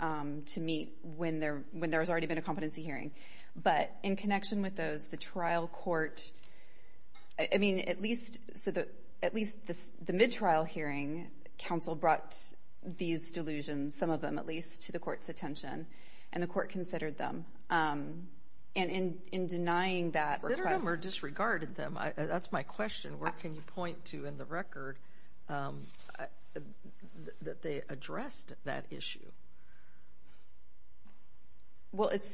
to meet when there's already been a competency hearing. But in connection with those, the trial court – I mean, at least – so at least the mid-trial hearing, counsel brought these delusions, some of them at least, to the court's attention, and the court considered them. And in denying that request – But there were a number of disregarded them. That's my question. Where can you point to in the record that they addressed that issue? Well, it's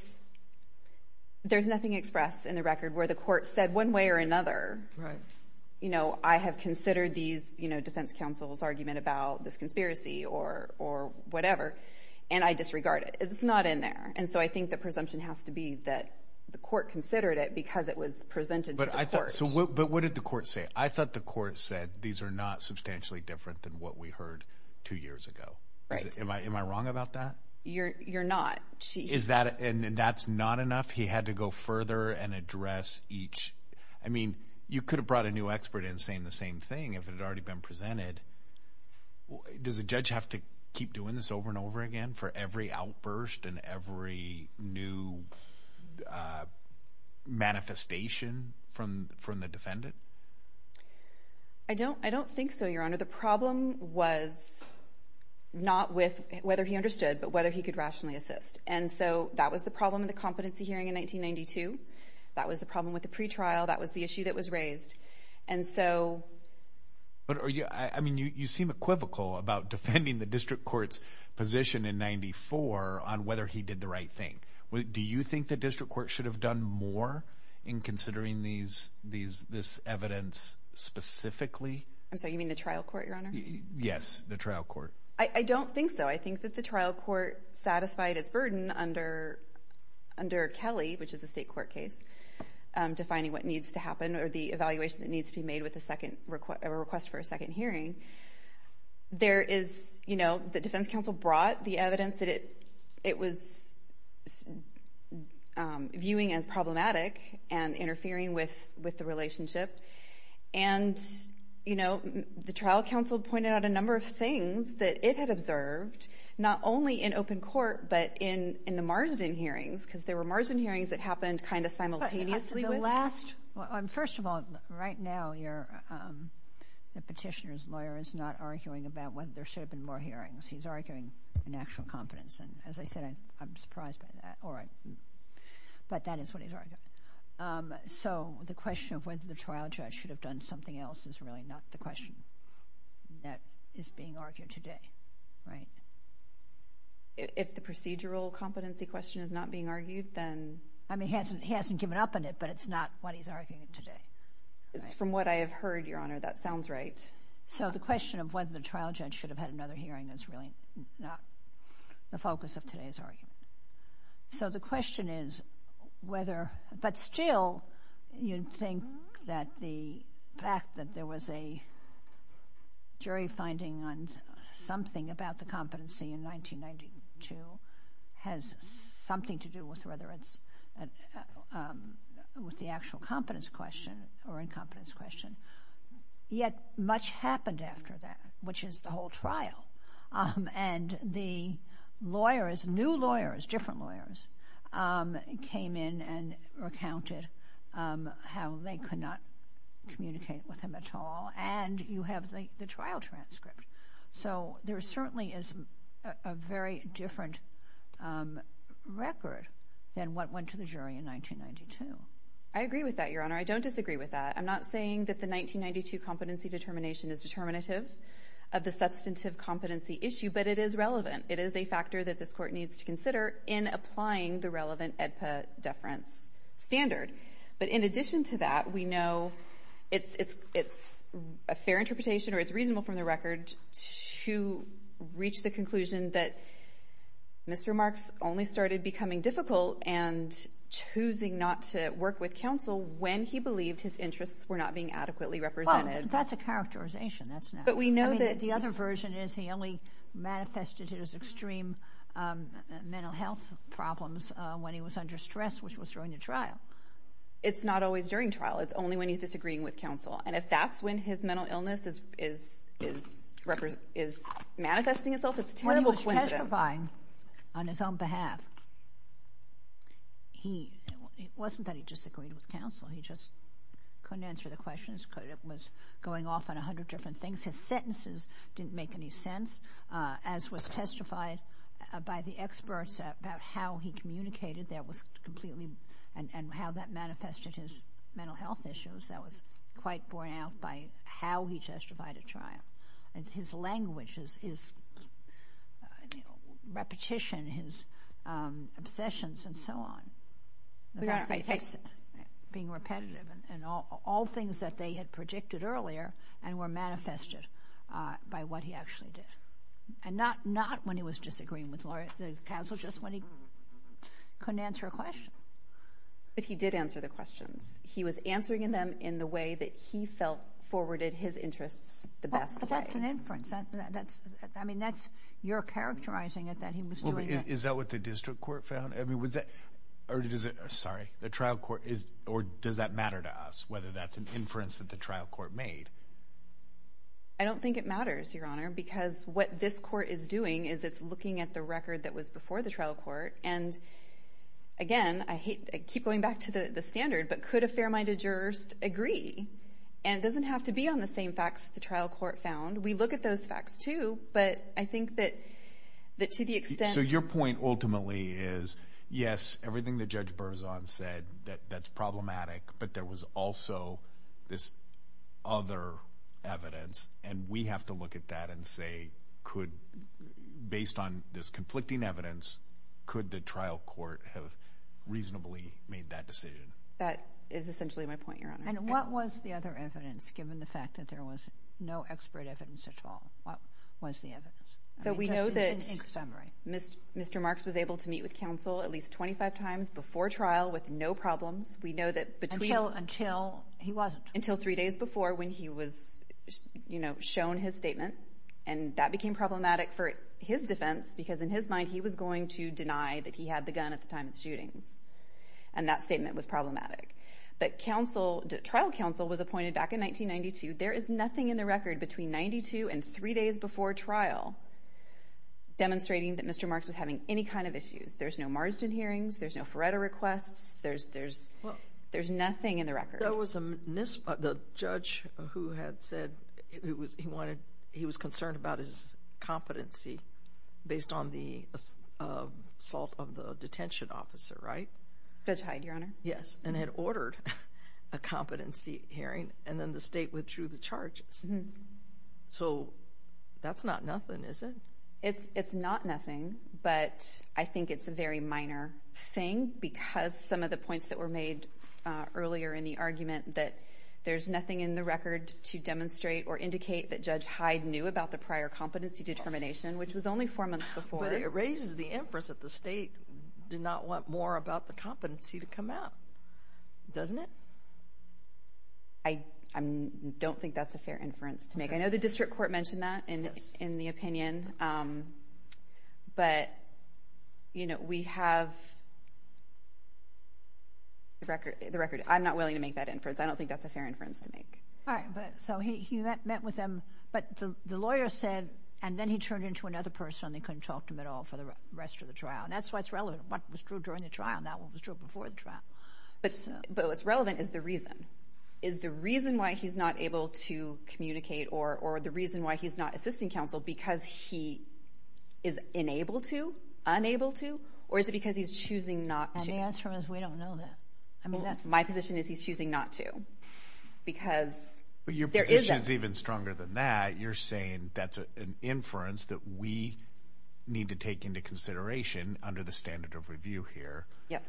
– there's nothing expressed in the record where the court said one way or another, you know, I have considered these – you know, defense counsel's argument about this conspiracy or whatever, and I disregard it. It's not in there. And so I think the presumption has to be that the court considered it because it was presented to the court. But what did the court say? I thought the court said these are not substantially different than what we heard two years ago. Right. Am I wrong about that? You're not. Is that – and that's not enough? He had to go further and address each – I mean, you could have brought a new expert in saying the same thing if it had already been presented. Does a judge have to keep doing this over and over again for every outburst and every new manifestation from the defendant? I don't think so, Your Honor. The problem was not with whether he understood but whether he could rationally assist. And so that was the problem in the competency hearing in 1992. That was the problem with the pretrial. That was the issue that was raised. And so – But are you – I mean, you seem equivocal about defending the district court's position in 94 on whether he did the right thing. Do you think the district court should have done more in considering these – this evidence specifically? I'm sorry. You mean the trial court, Your Honor? Yes, the trial court. I don't think so. I think that the trial court satisfied its burden under Kelly, which is a state court case, defining what needs to happen or the evaluation that needs to be made with a second request for a second hearing. There is – the defense counsel brought the evidence that it was viewing as problematic and interfering with the relationship. And the trial counsel pointed out a number of things that it had observed, not only in open court but in the Marsden hearings, because there were Marsden hearings that happened kind of simultaneously with – But the last – well, first of all, right now you're – the petitioner's lawyer is not arguing about whether there should have been more hearings. He's arguing in actual confidence. And as I said, I'm surprised by that. Or – but that is what he's arguing. So the question of whether the trial judge should have done something else is really not the question that is being argued today, right? If the procedural competency question is not being argued, then – I mean, he hasn't given up on it, but it's not what he's arguing today, right? From what I have heard, Your Honor, that sounds right. So the question of whether the trial judge should have had another hearing is really not the focus of today's argument. So the question is whether – but still, you'd think that the fact that there was a jury finding on something about the competency in 1992 has something to do with whether it's with the actual competence question or incompetence question. Yet much happened after that, which is the whole trial. And the lawyers – new lawyers, different lawyers – came in and recounted how they could not communicate with him at all. And you have the trial transcript. So there certainly is a very different record than what went to the jury in 1992. I agree with that, Your Honor. I don't disagree with that. I'm not saying that the 1992 competency determination is determinative of the substantive competency issue, but it is relevant. It is a factor that this Court needs to consider in applying the relevant EDPA deference standard. But in addition to that, we know it's a fair interpretation, or it's reasonable from the record, to reach the conclusion that Mr. Marks only started becoming difficult and choosing not to work with counsel when he believed his interests were not being adequately represented. Well, that's a characterization. That's not – I mean, the other version is he only manifested his extreme mental health problems when he was under stress, which was during the trial. It's not always during trial. It's only when he's disagreeing with counsel. And if that's when his mental illness is manifesting itself, it's a terrible coincidence. When he was testifying on his own behalf, it wasn't that he disagreed with counsel. He just couldn't answer the questions because it was going off on 100 different things. His sentences didn't make any sense, as was testified by the experts about how he communicated. That was completely – and how that manifested his mental health issues. That was quite borne out by how he testified at trial. His language, his repetition, his obsessions, and so on, being repetitive, and all things that they had predicted earlier and were manifested by what he actually did. And not when he was disagreeing with counsel, just when he couldn't answer a question. But he did answer the questions. He was answering them in the way that he felt forwarded his interests the best way. But that's an inference. I mean, that's – you're characterizing it that he was doing that. Is that what the district court found? I mean, was that – or does it – sorry, the trial court – or does that matter to us, whether that's an inference that the trial court made? I don't think it matters, Your Honor, because what this court is doing is it's looking at the record that was before the trial court. And again, I keep going back to the standard, but could a fair-minded jurist agree? And it doesn't have to be on the same facts that the trial court found. We look at those facts too, but I think that to the extent – So your point ultimately is, yes, everything that Judge Berzon said, that's problematic, but there was also this other evidence. And we have to look at that and say, could – based on this conflicting evidence, could the trial court have reasonably made that decision? That is essentially my point, Your Honor. And what was the other evidence, given the fact that there was no expert evidence at all? What was the evidence? So we know that Mr. Marks was able to meet with counsel at least 25 times before trial with no problems. We know that – Until – he wasn't. Until three days before when he was shown his statement. And that became problematic for his defense because in his mind he was going to deny that he had the gun at the time of the shooting. And that statement was problematic. But trial counsel was appointed back in 1992. There is nothing in the record between 92 and three days before trial demonstrating that Mr. Marks was having any kind of issues. There's no Marsden hearings. There's no Ferretto requests. There's nothing in the record. There was a – the judge who had said he wanted – he was concerned about his competency based on the assault of the detention officer, right? That's right, Your Honor. Yes. And had ordered a competency hearing. And then the state withdrew the charges. So that's not nothing, is it? It's not nothing. But I think it's a very minor thing because some of the points that were made earlier in the argument that there's nothing in the record to demonstrate or indicate that Judge Hyde knew about the prior competency determination, which was only four months before. But it raises the inference that the state did not want more about the competency to come out, doesn't it? I don't think that's a fair inference to make. I know the district court mentioned that in the opinion. But we have – the record – I'm not willing to make that inference. I don't think that's a fair inference to make. All right. But so he met with them. But the lawyer said – and then he turned into another person. They couldn't talk to him at all for the rest of the trial. And that's what's relevant. What was true during the trial, now what was true before the trial. But what's relevant is the reason. Is the reason why he's not able to communicate or the reason why he's not assisting counsel because he is unable to, unable to, or is it because he's choosing not to? And the answer is we don't know that. I mean, that's – My position is he's choosing not to. Because there is – But your position is even stronger than that. You're saying that's an inference that we need to take into consideration under the standard of review here. Yes.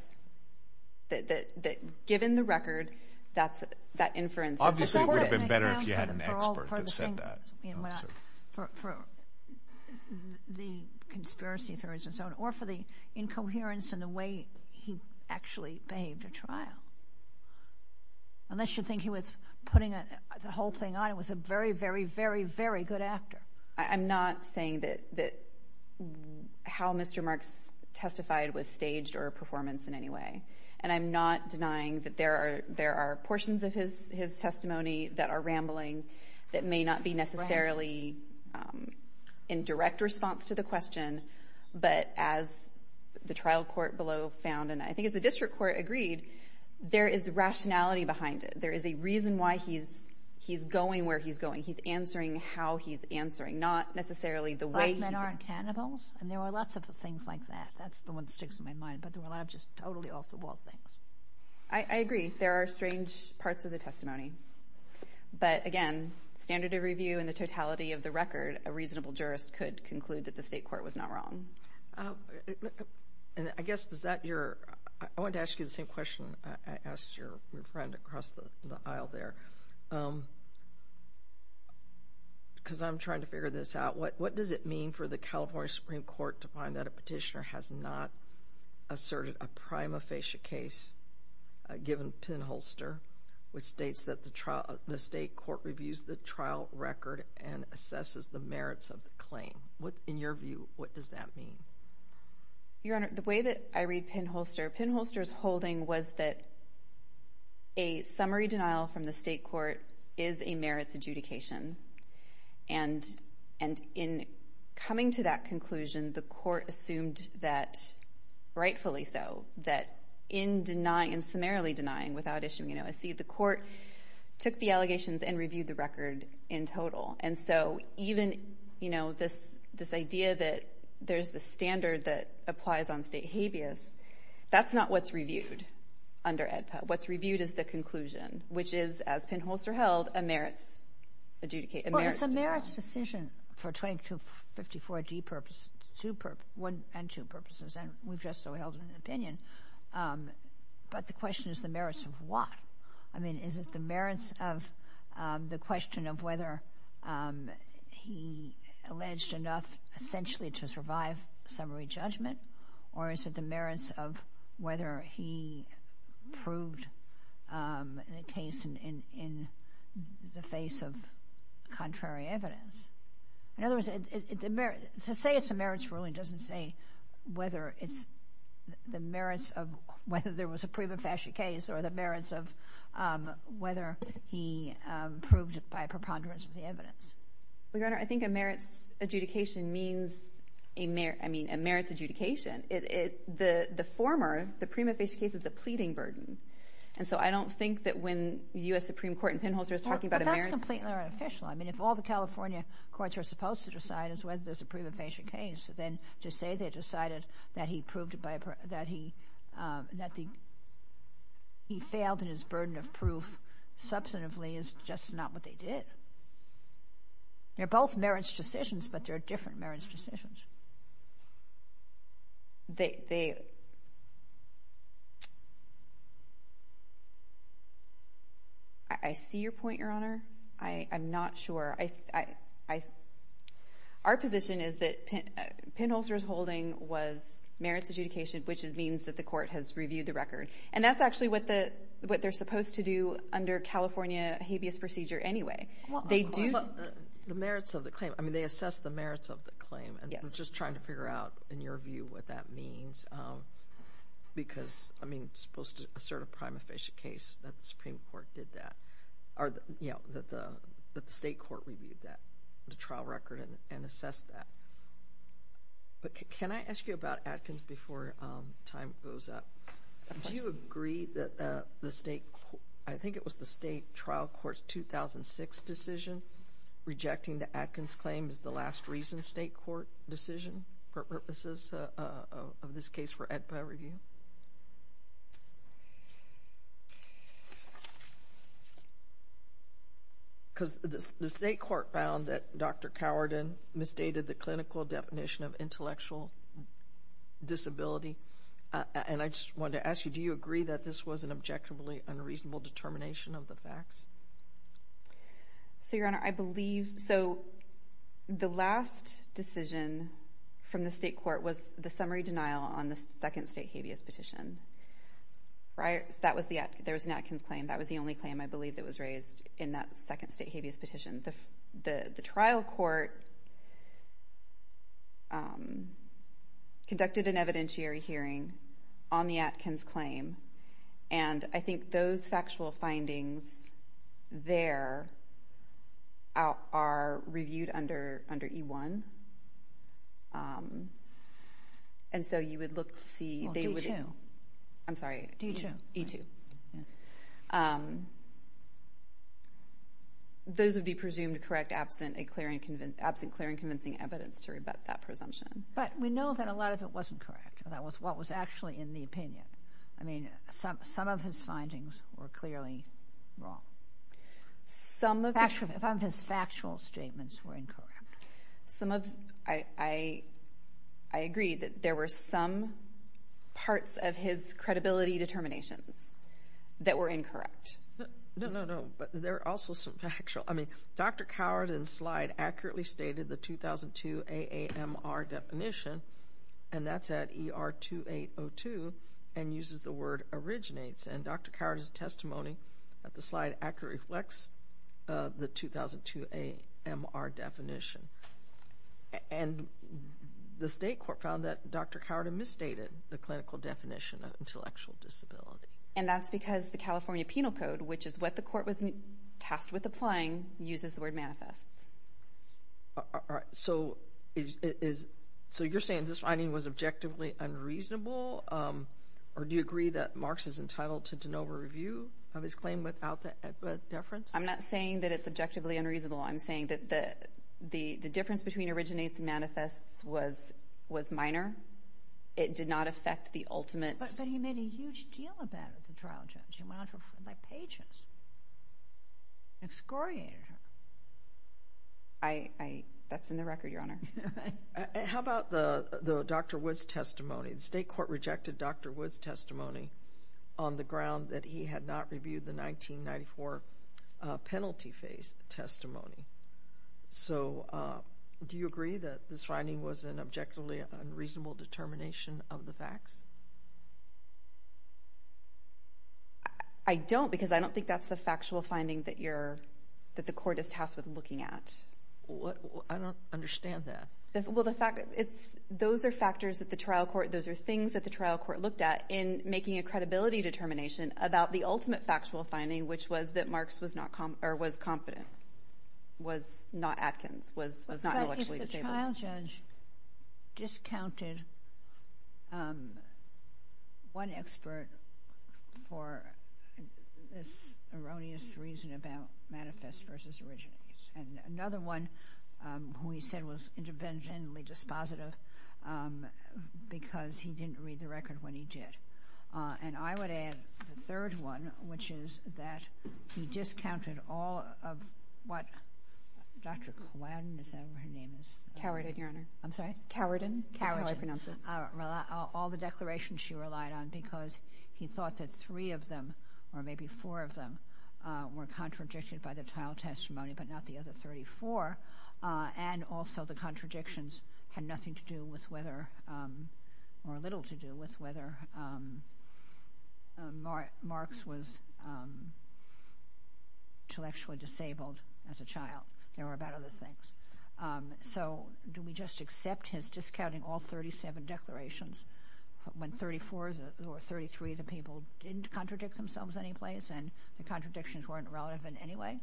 That given the record, that's – that inference – Obviously, it would have been better if you had an expert that said that. For the conspiracy theories and so on. Or for the incoherence in the way he actually behaved at trial. Unless you think he was putting the whole thing on. It was a very, very, very, very good actor. I'm not saying that how Mr. Marks testified was staged or a performance in any way. And I'm not denying that there are portions of his testimony that are rambling that may not be necessarily in direct response to the question. But as the trial court below found, and I think as the district court agreed, there is rationality behind it. There is a reason why he's going where he's going. He's answering how he's answering, not necessarily the way he – Black men aren't cannibals. And there were lots of things like that. That's the one that sticks in my mind. But there were a lot of just totally off-the-wall things. I agree. There are strange parts of the testimony. But again, standard of review and the totality of the record, a reasonable jurist could conclude that the state court was not wrong. And I guess, is that your – I wanted to ask you the same question I asked your friend across the aisle there. Because I'm trying to figure this out. What does it mean for the California Supreme Court to find that a petitioner has not asserted a prima facie case given Penholster, which states that the state court reviews the trial record and assesses the merits of the claim? What, in your view, what does that mean? Your Honor, the way that I read Penholster, Penholster's holding was that a summary And in coming to that conclusion, the court assumed that, rightfully so, that in denying, summarily denying, without issuing an OSC, the court took the allegations and reviewed the record in total. And so even this idea that there's a standard that applies on state habeas, that's not what's reviewed under AEDPA. What's reviewed is the conclusion, which is, as Penholster held, a merits adjudication. Well, it's a merits decision for 2254D purposes, two purposes – one and two purposes, and we've just so held an opinion. But the question is the merits of what? I mean, is it the merits of the question of whether he alleged enough, essentially, to prove the case in the face of contrary evidence? In other words, to say it's a merits ruling doesn't say whether it's the merits of whether there was a prima facie case or the merits of whether he proved it by a preponderance of the evidence. Your Honor, I think a merits adjudication means – I mean, a merits adjudication – the former, the prima facie case, is a pleading burden. And so I don't think that when the U.S. Supreme Court in Penholster is talking about a merits – Well, that's completely unofficial. I mean, if all the California courts are supposed to decide is whether there's a prima facie case, then to say they decided that he proved by – that he failed in his burden of proof substantively is just not what they did. They're both merits decisions, but they're different merits decisions. They – I see your point, Your Honor. I'm not sure. Our position is that Penholster's holding was merits adjudication, which means that the court has reviewed the record. And that's actually what they're supposed to do under California habeas procedure anyway. They do – Well, the merits of the claim – I mean, they assess the merits of the claim. Yes. I'm just trying to figure out, in your view, what that means. Because, I mean, it's supposed to assert a prima facie case that the Supreme Court did that – or, you know, that the state court reviewed that – the trial record and assessed that. But can I ask you about Atkins before time goes up? Do you agree that the state – I think it was the state trial court's 2006 decision rejecting the Atkins claim as the last recent state court decision for purposes of this case for FBI review? Because the state court found that Dr. Cowardin misstated the clinical definition of intellectual disability. And I just wanted to ask you, do you agree that this was an objectively unreasonable determination of the facts? So, Your Honor, I believe – so the last decision from the state court was the summary denial on the second state habeas petition, right? That was the – there was an Atkins claim. That was the only claim, I believe, that was raised in that second state habeas petition. The trial court conducted an evidentiary hearing on the Atkins claim. And I think those factual findings there are reviewed under E-1. And so you would look to see – Well, D-2. I'm sorry. D-2. E-2. Those would be presumed correct absent a clear and – absent clear and convincing evidence to rebut that presumption. But we know that a lot of it wasn't correct. That was what was actually in the opinion. I mean, some of his findings were clearly wrong. Some of his factual statements were incorrect. Some of – I agree that there were some parts of his credibility determinations that were incorrect. No, no, no. But there are also some factual – I mean, Dr. Coward in the slide accurately stated the 2002 AAMR definition, and that's at ER 2802, and uses the word originates. And Dr. Coward's testimony at the slide accurately reflects the 2002 AAMR definition. And the state court found that Dr. Coward had misstated the clinical definition of intellectual disability. And that's because the California Penal Code, which is what the court was tasked with applying, uses the word manifests. All right. So is – so you're saying this finding was objectively unreasonable, or do you agree that Marx is entitled to de novo review of his claim without the deference? I'm not saying that it's objectively unreasonable. I'm saying that the difference between originates and manifests was minor. It did not affect the ultimate – But he made a huge deal of that at the trial, Judge. He went on to refer to it by pages. It's scoring. I – that's in the record, Your Honor. And how about the Dr. Woods testimony? The state court rejected Dr. Woods' testimony on the ground that he had not reviewed the 1994 penalty phase testimony. So do you agree that this finding was an objectively unreasonable determination of the facts? I don't, because I don't think that's the factual finding that you're – that the court is tasked with looking at. I don't understand that. Well, the fact – it's – those are factors that the trial court – those are things that the trial court looked at in making a credibility determination about the ultimate factual finding, which was that Marx was not – or was competent, was not active, was not intellectually disabled. The trial judge discounted one expert for this erroneous reason about manifest versus originates, and another one who he said was interventionally dispositive because he didn't read the record when he did. And I would add the third one, which is that he discounted all of what – Dr. Cowan, is that right? Cowan, your honor. I'm sorry? Cowan. Cowan is how I pronounce it. All the declarations she relied on because he thought that three of them, or maybe four of them, were contradicted by the trial testimony, but not the other 34. And also the contradictions had nothing to do with whether – or little to do with whether Marx was intellectually disabled as a child. There were about other things. So do we just accept his discounting all 37 declarations when 34 or 33 of the people didn't contradict themselves in any place and the contradictions weren't relevant anyway?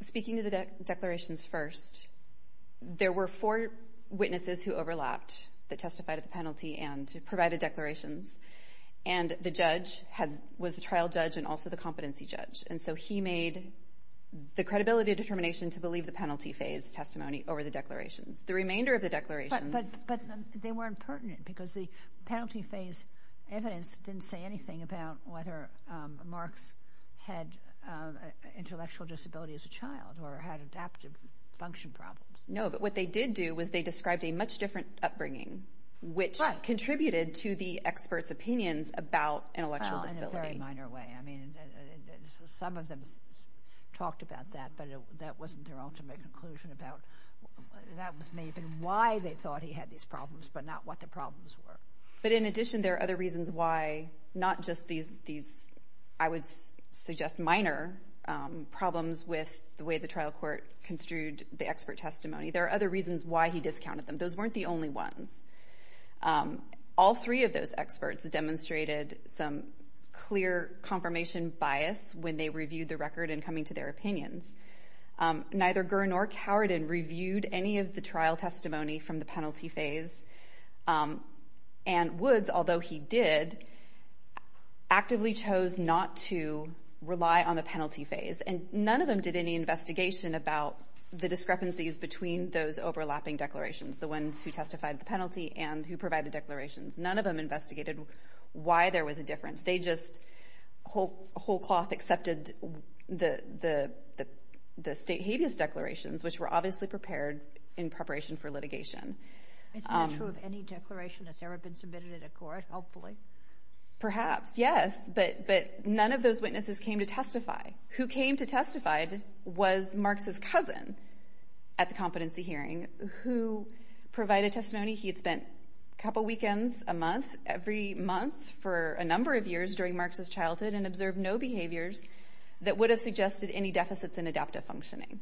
Speaking of the declarations first, there were four witnesses who overlapped that testified at the penalty and provided declarations, and the judge had – was the trial judge and also the competency judge. And so he made the credibility of determination to believe the penalty phase testimony over the declarations. The remainder of the declarations – But they weren't pertinent because the penalty phase evidence didn't say anything about whether Marx had intellectual disability as a child or had adaptive function problems. No, but what they did do was they described a much different upbringing, which contributed to the experts' opinions about intellectual disability. In a very minor way. I mean, some of them talked about that, but that wasn't their ultimate conclusion about – that was maybe why they thought he had these problems, but not what the problems were. But in addition, there are other reasons why not just these – I would suggest minor problems with the way the trial court construed the expert testimony. There are other reasons why he discounted them. Those weren't the only ones. All three of those experts demonstrated some clear confirmation bias when they reviewed the record in coming to their opinions. Neither Gurn or Cowardin reviewed any of the trial testimony from the penalty phase, and Woods, although he did, actively chose not to rely on the penalty phase. And none of them did any investigation about the discrepancies between those overlapping declarations, the ones who testified the penalty and who provided declarations. None of them investigated why there was a difference. They just whole-cloth accepted the state habeas declarations, which were obviously prepared in preparation for litigation. Is that true of any declaration that's ever been submitted in a court, hopefully? Perhaps, yes, but none of those witnesses came to testify. Who came to testify was Marx's cousin at the competency hearing. Who provided testimony? He had spent a couple weekends a month, every month for a number of years during Marx's childhood, and observed no behaviors that would have suggested any deficits in adaptive functioning.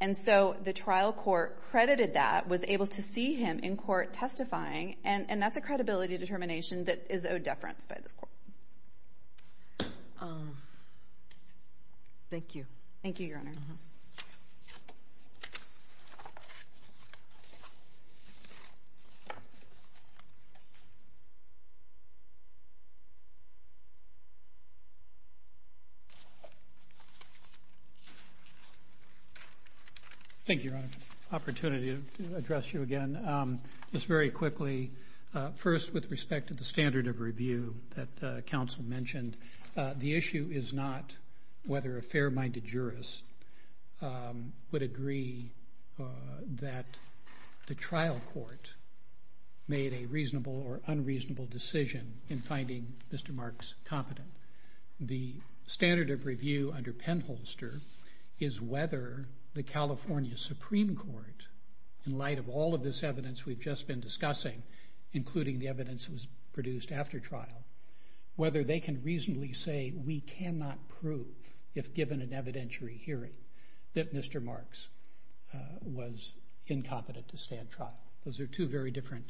And so the trial court credited that, was able to see him in court testifying, and that's a credibility determination that is owed deference by the court. Thank you. Thank you, Your Honor. Thank you, Your Honor. Opportunity to address you again. Just very quickly, first, with respect to the standard of review that counsel mentioned, the issue is not whether a fair-minded jurist would agree that the trial court made a reasonable or unreasonable decision in finding Mr. Marx competent. The standard of review under Penholster is whether the California Supreme Court, in light of all of this evidence we've just been discussing, including the evidence that was produced after trial, whether they can reasonably say we cannot prove, if given an evidentiary hearing, that Mr. Marx was incompetent to stand trial. Those are two very different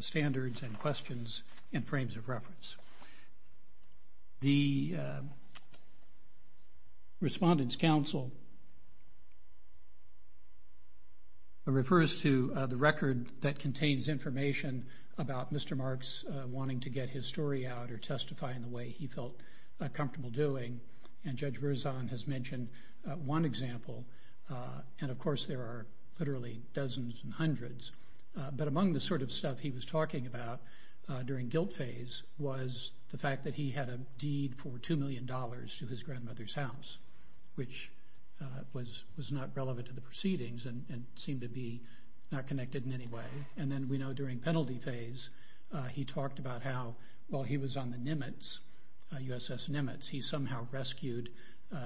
standards and questions and frames of reference. The Respondents' Counsel refers to the record that contains information about Mr. Marx wanting to get his story out or testify in the way he felt comfortable doing, and Judge Rouzon has mentioned one example, and of course there are literally dozens and hundreds. But among the sort of stuff he was talking about during guilt phase was the fact that he had a deed for $2 million to his grandmother's house, which was not relevant to the proceedings and seemed to be not connected in any way. And then we know during penalty phase, he talked about how while he was on the Nimitz, USS Nimitz, he somehow rescued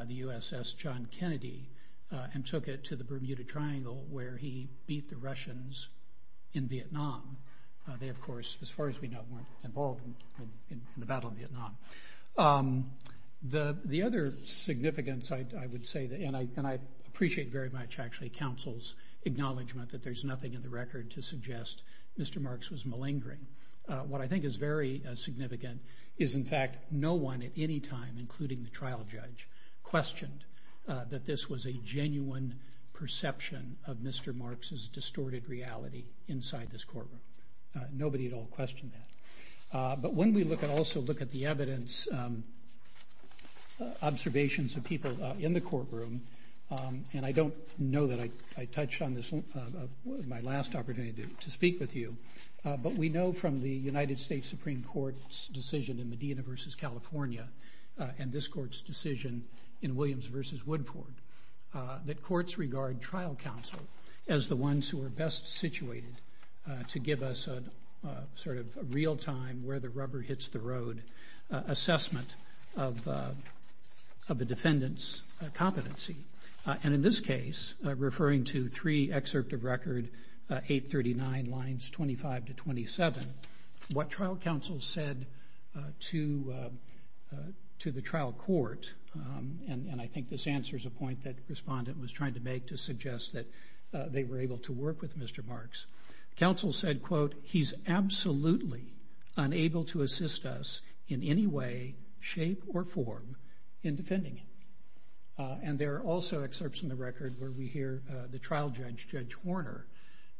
the USS John Kennedy and took it to the Bermuda Triangle where he beat the Russians in Vietnam. They, of course, as far as we know, weren't involved in the Battle of Vietnam. The other significance I would say, and I appreciate very much actually Counsel's acknowledgment that there's nothing in the record to suggest Mr. Marx was malingering. What I think is very significant is in fact no one at any time, including the trial judge, questioned that this was a genuine perception of Mr. Marx's distorted reality inside this courtroom. Nobody at all questioned that. But when we look and also look at the evidence, observations of people in the courtroom, and I don't know that I touched on this in my last opportunity to speak with you, but we know from the United States Supreme Court's decision in Medina versus California and this court's decision in Williams versus Woodford that courts regard trial counsel as the ones who are best situated to give us a sort of real time where the rubber hits the road assessment of the defendant's competency. And in this case, referring to three excerpt of record 839 lines 25 to 27, what trial counsel said to the trial court, and I think this answer is a point that the respondent was trying to make to suggest that they were able to work with Mr. Marx. Counsel said, quote, he's absolutely unable to assist us in any way, shape, or form in defending him. And there are also excerpts in the record where we hear the trial judge, Judge Warner,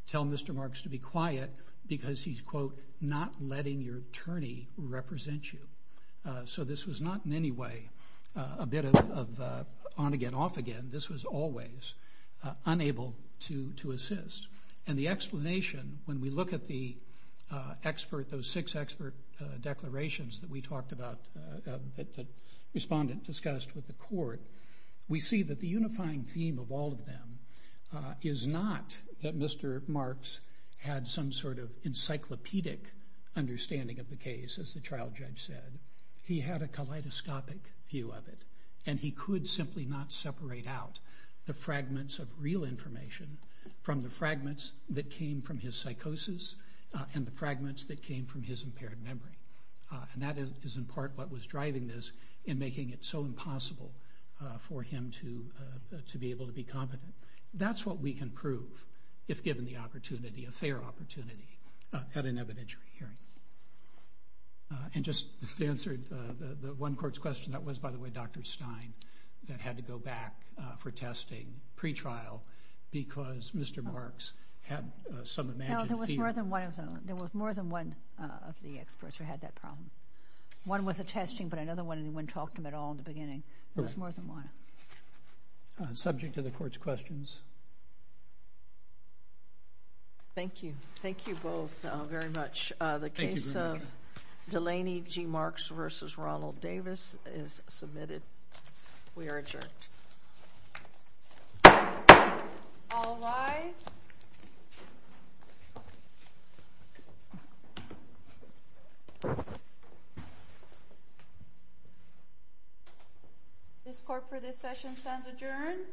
tell Mr. Marx to be quiet because he's, quote, not letting your attorney represent you. So this was not in any way a bit of on again, off again. This was always unable to assist. And the explanation, when we look at the expert, those six expert declarations that we talked about that the respondent discussed with the court, we see that the unifying theme of all of them is not that Mr. Marx had some sort of encyclopedic understanding of the case, as the trial judge said. He had a kaleidoscopic view of it, and he could simply not separate out the fragments of real information from the fragments that came from his psychosis and the fragments that came from his impaired memory. And that is, in part, what was driving this in making it so impossible for him to be able to be competent. That's what we can prove, if given the opportunity, a fair opportunity, at an evidentiary hearing. And just to answer the one court's question, that was, by the way, Dr. Stein that had to go back for testing, pre-trial, because Mr. Marx had some imaginative view. No, there was more than one of them. There was more than one of the experts who had that problem. One was the testing, but another one, and no one talked to him at all in the beginning. There was more than one. Subject to the court's questions. Thank you. Thank you both very much. The case of Delaney G. Marx versus Ronald Davis is submitted. We are adjourned. All live. This court for this session stands adjourned.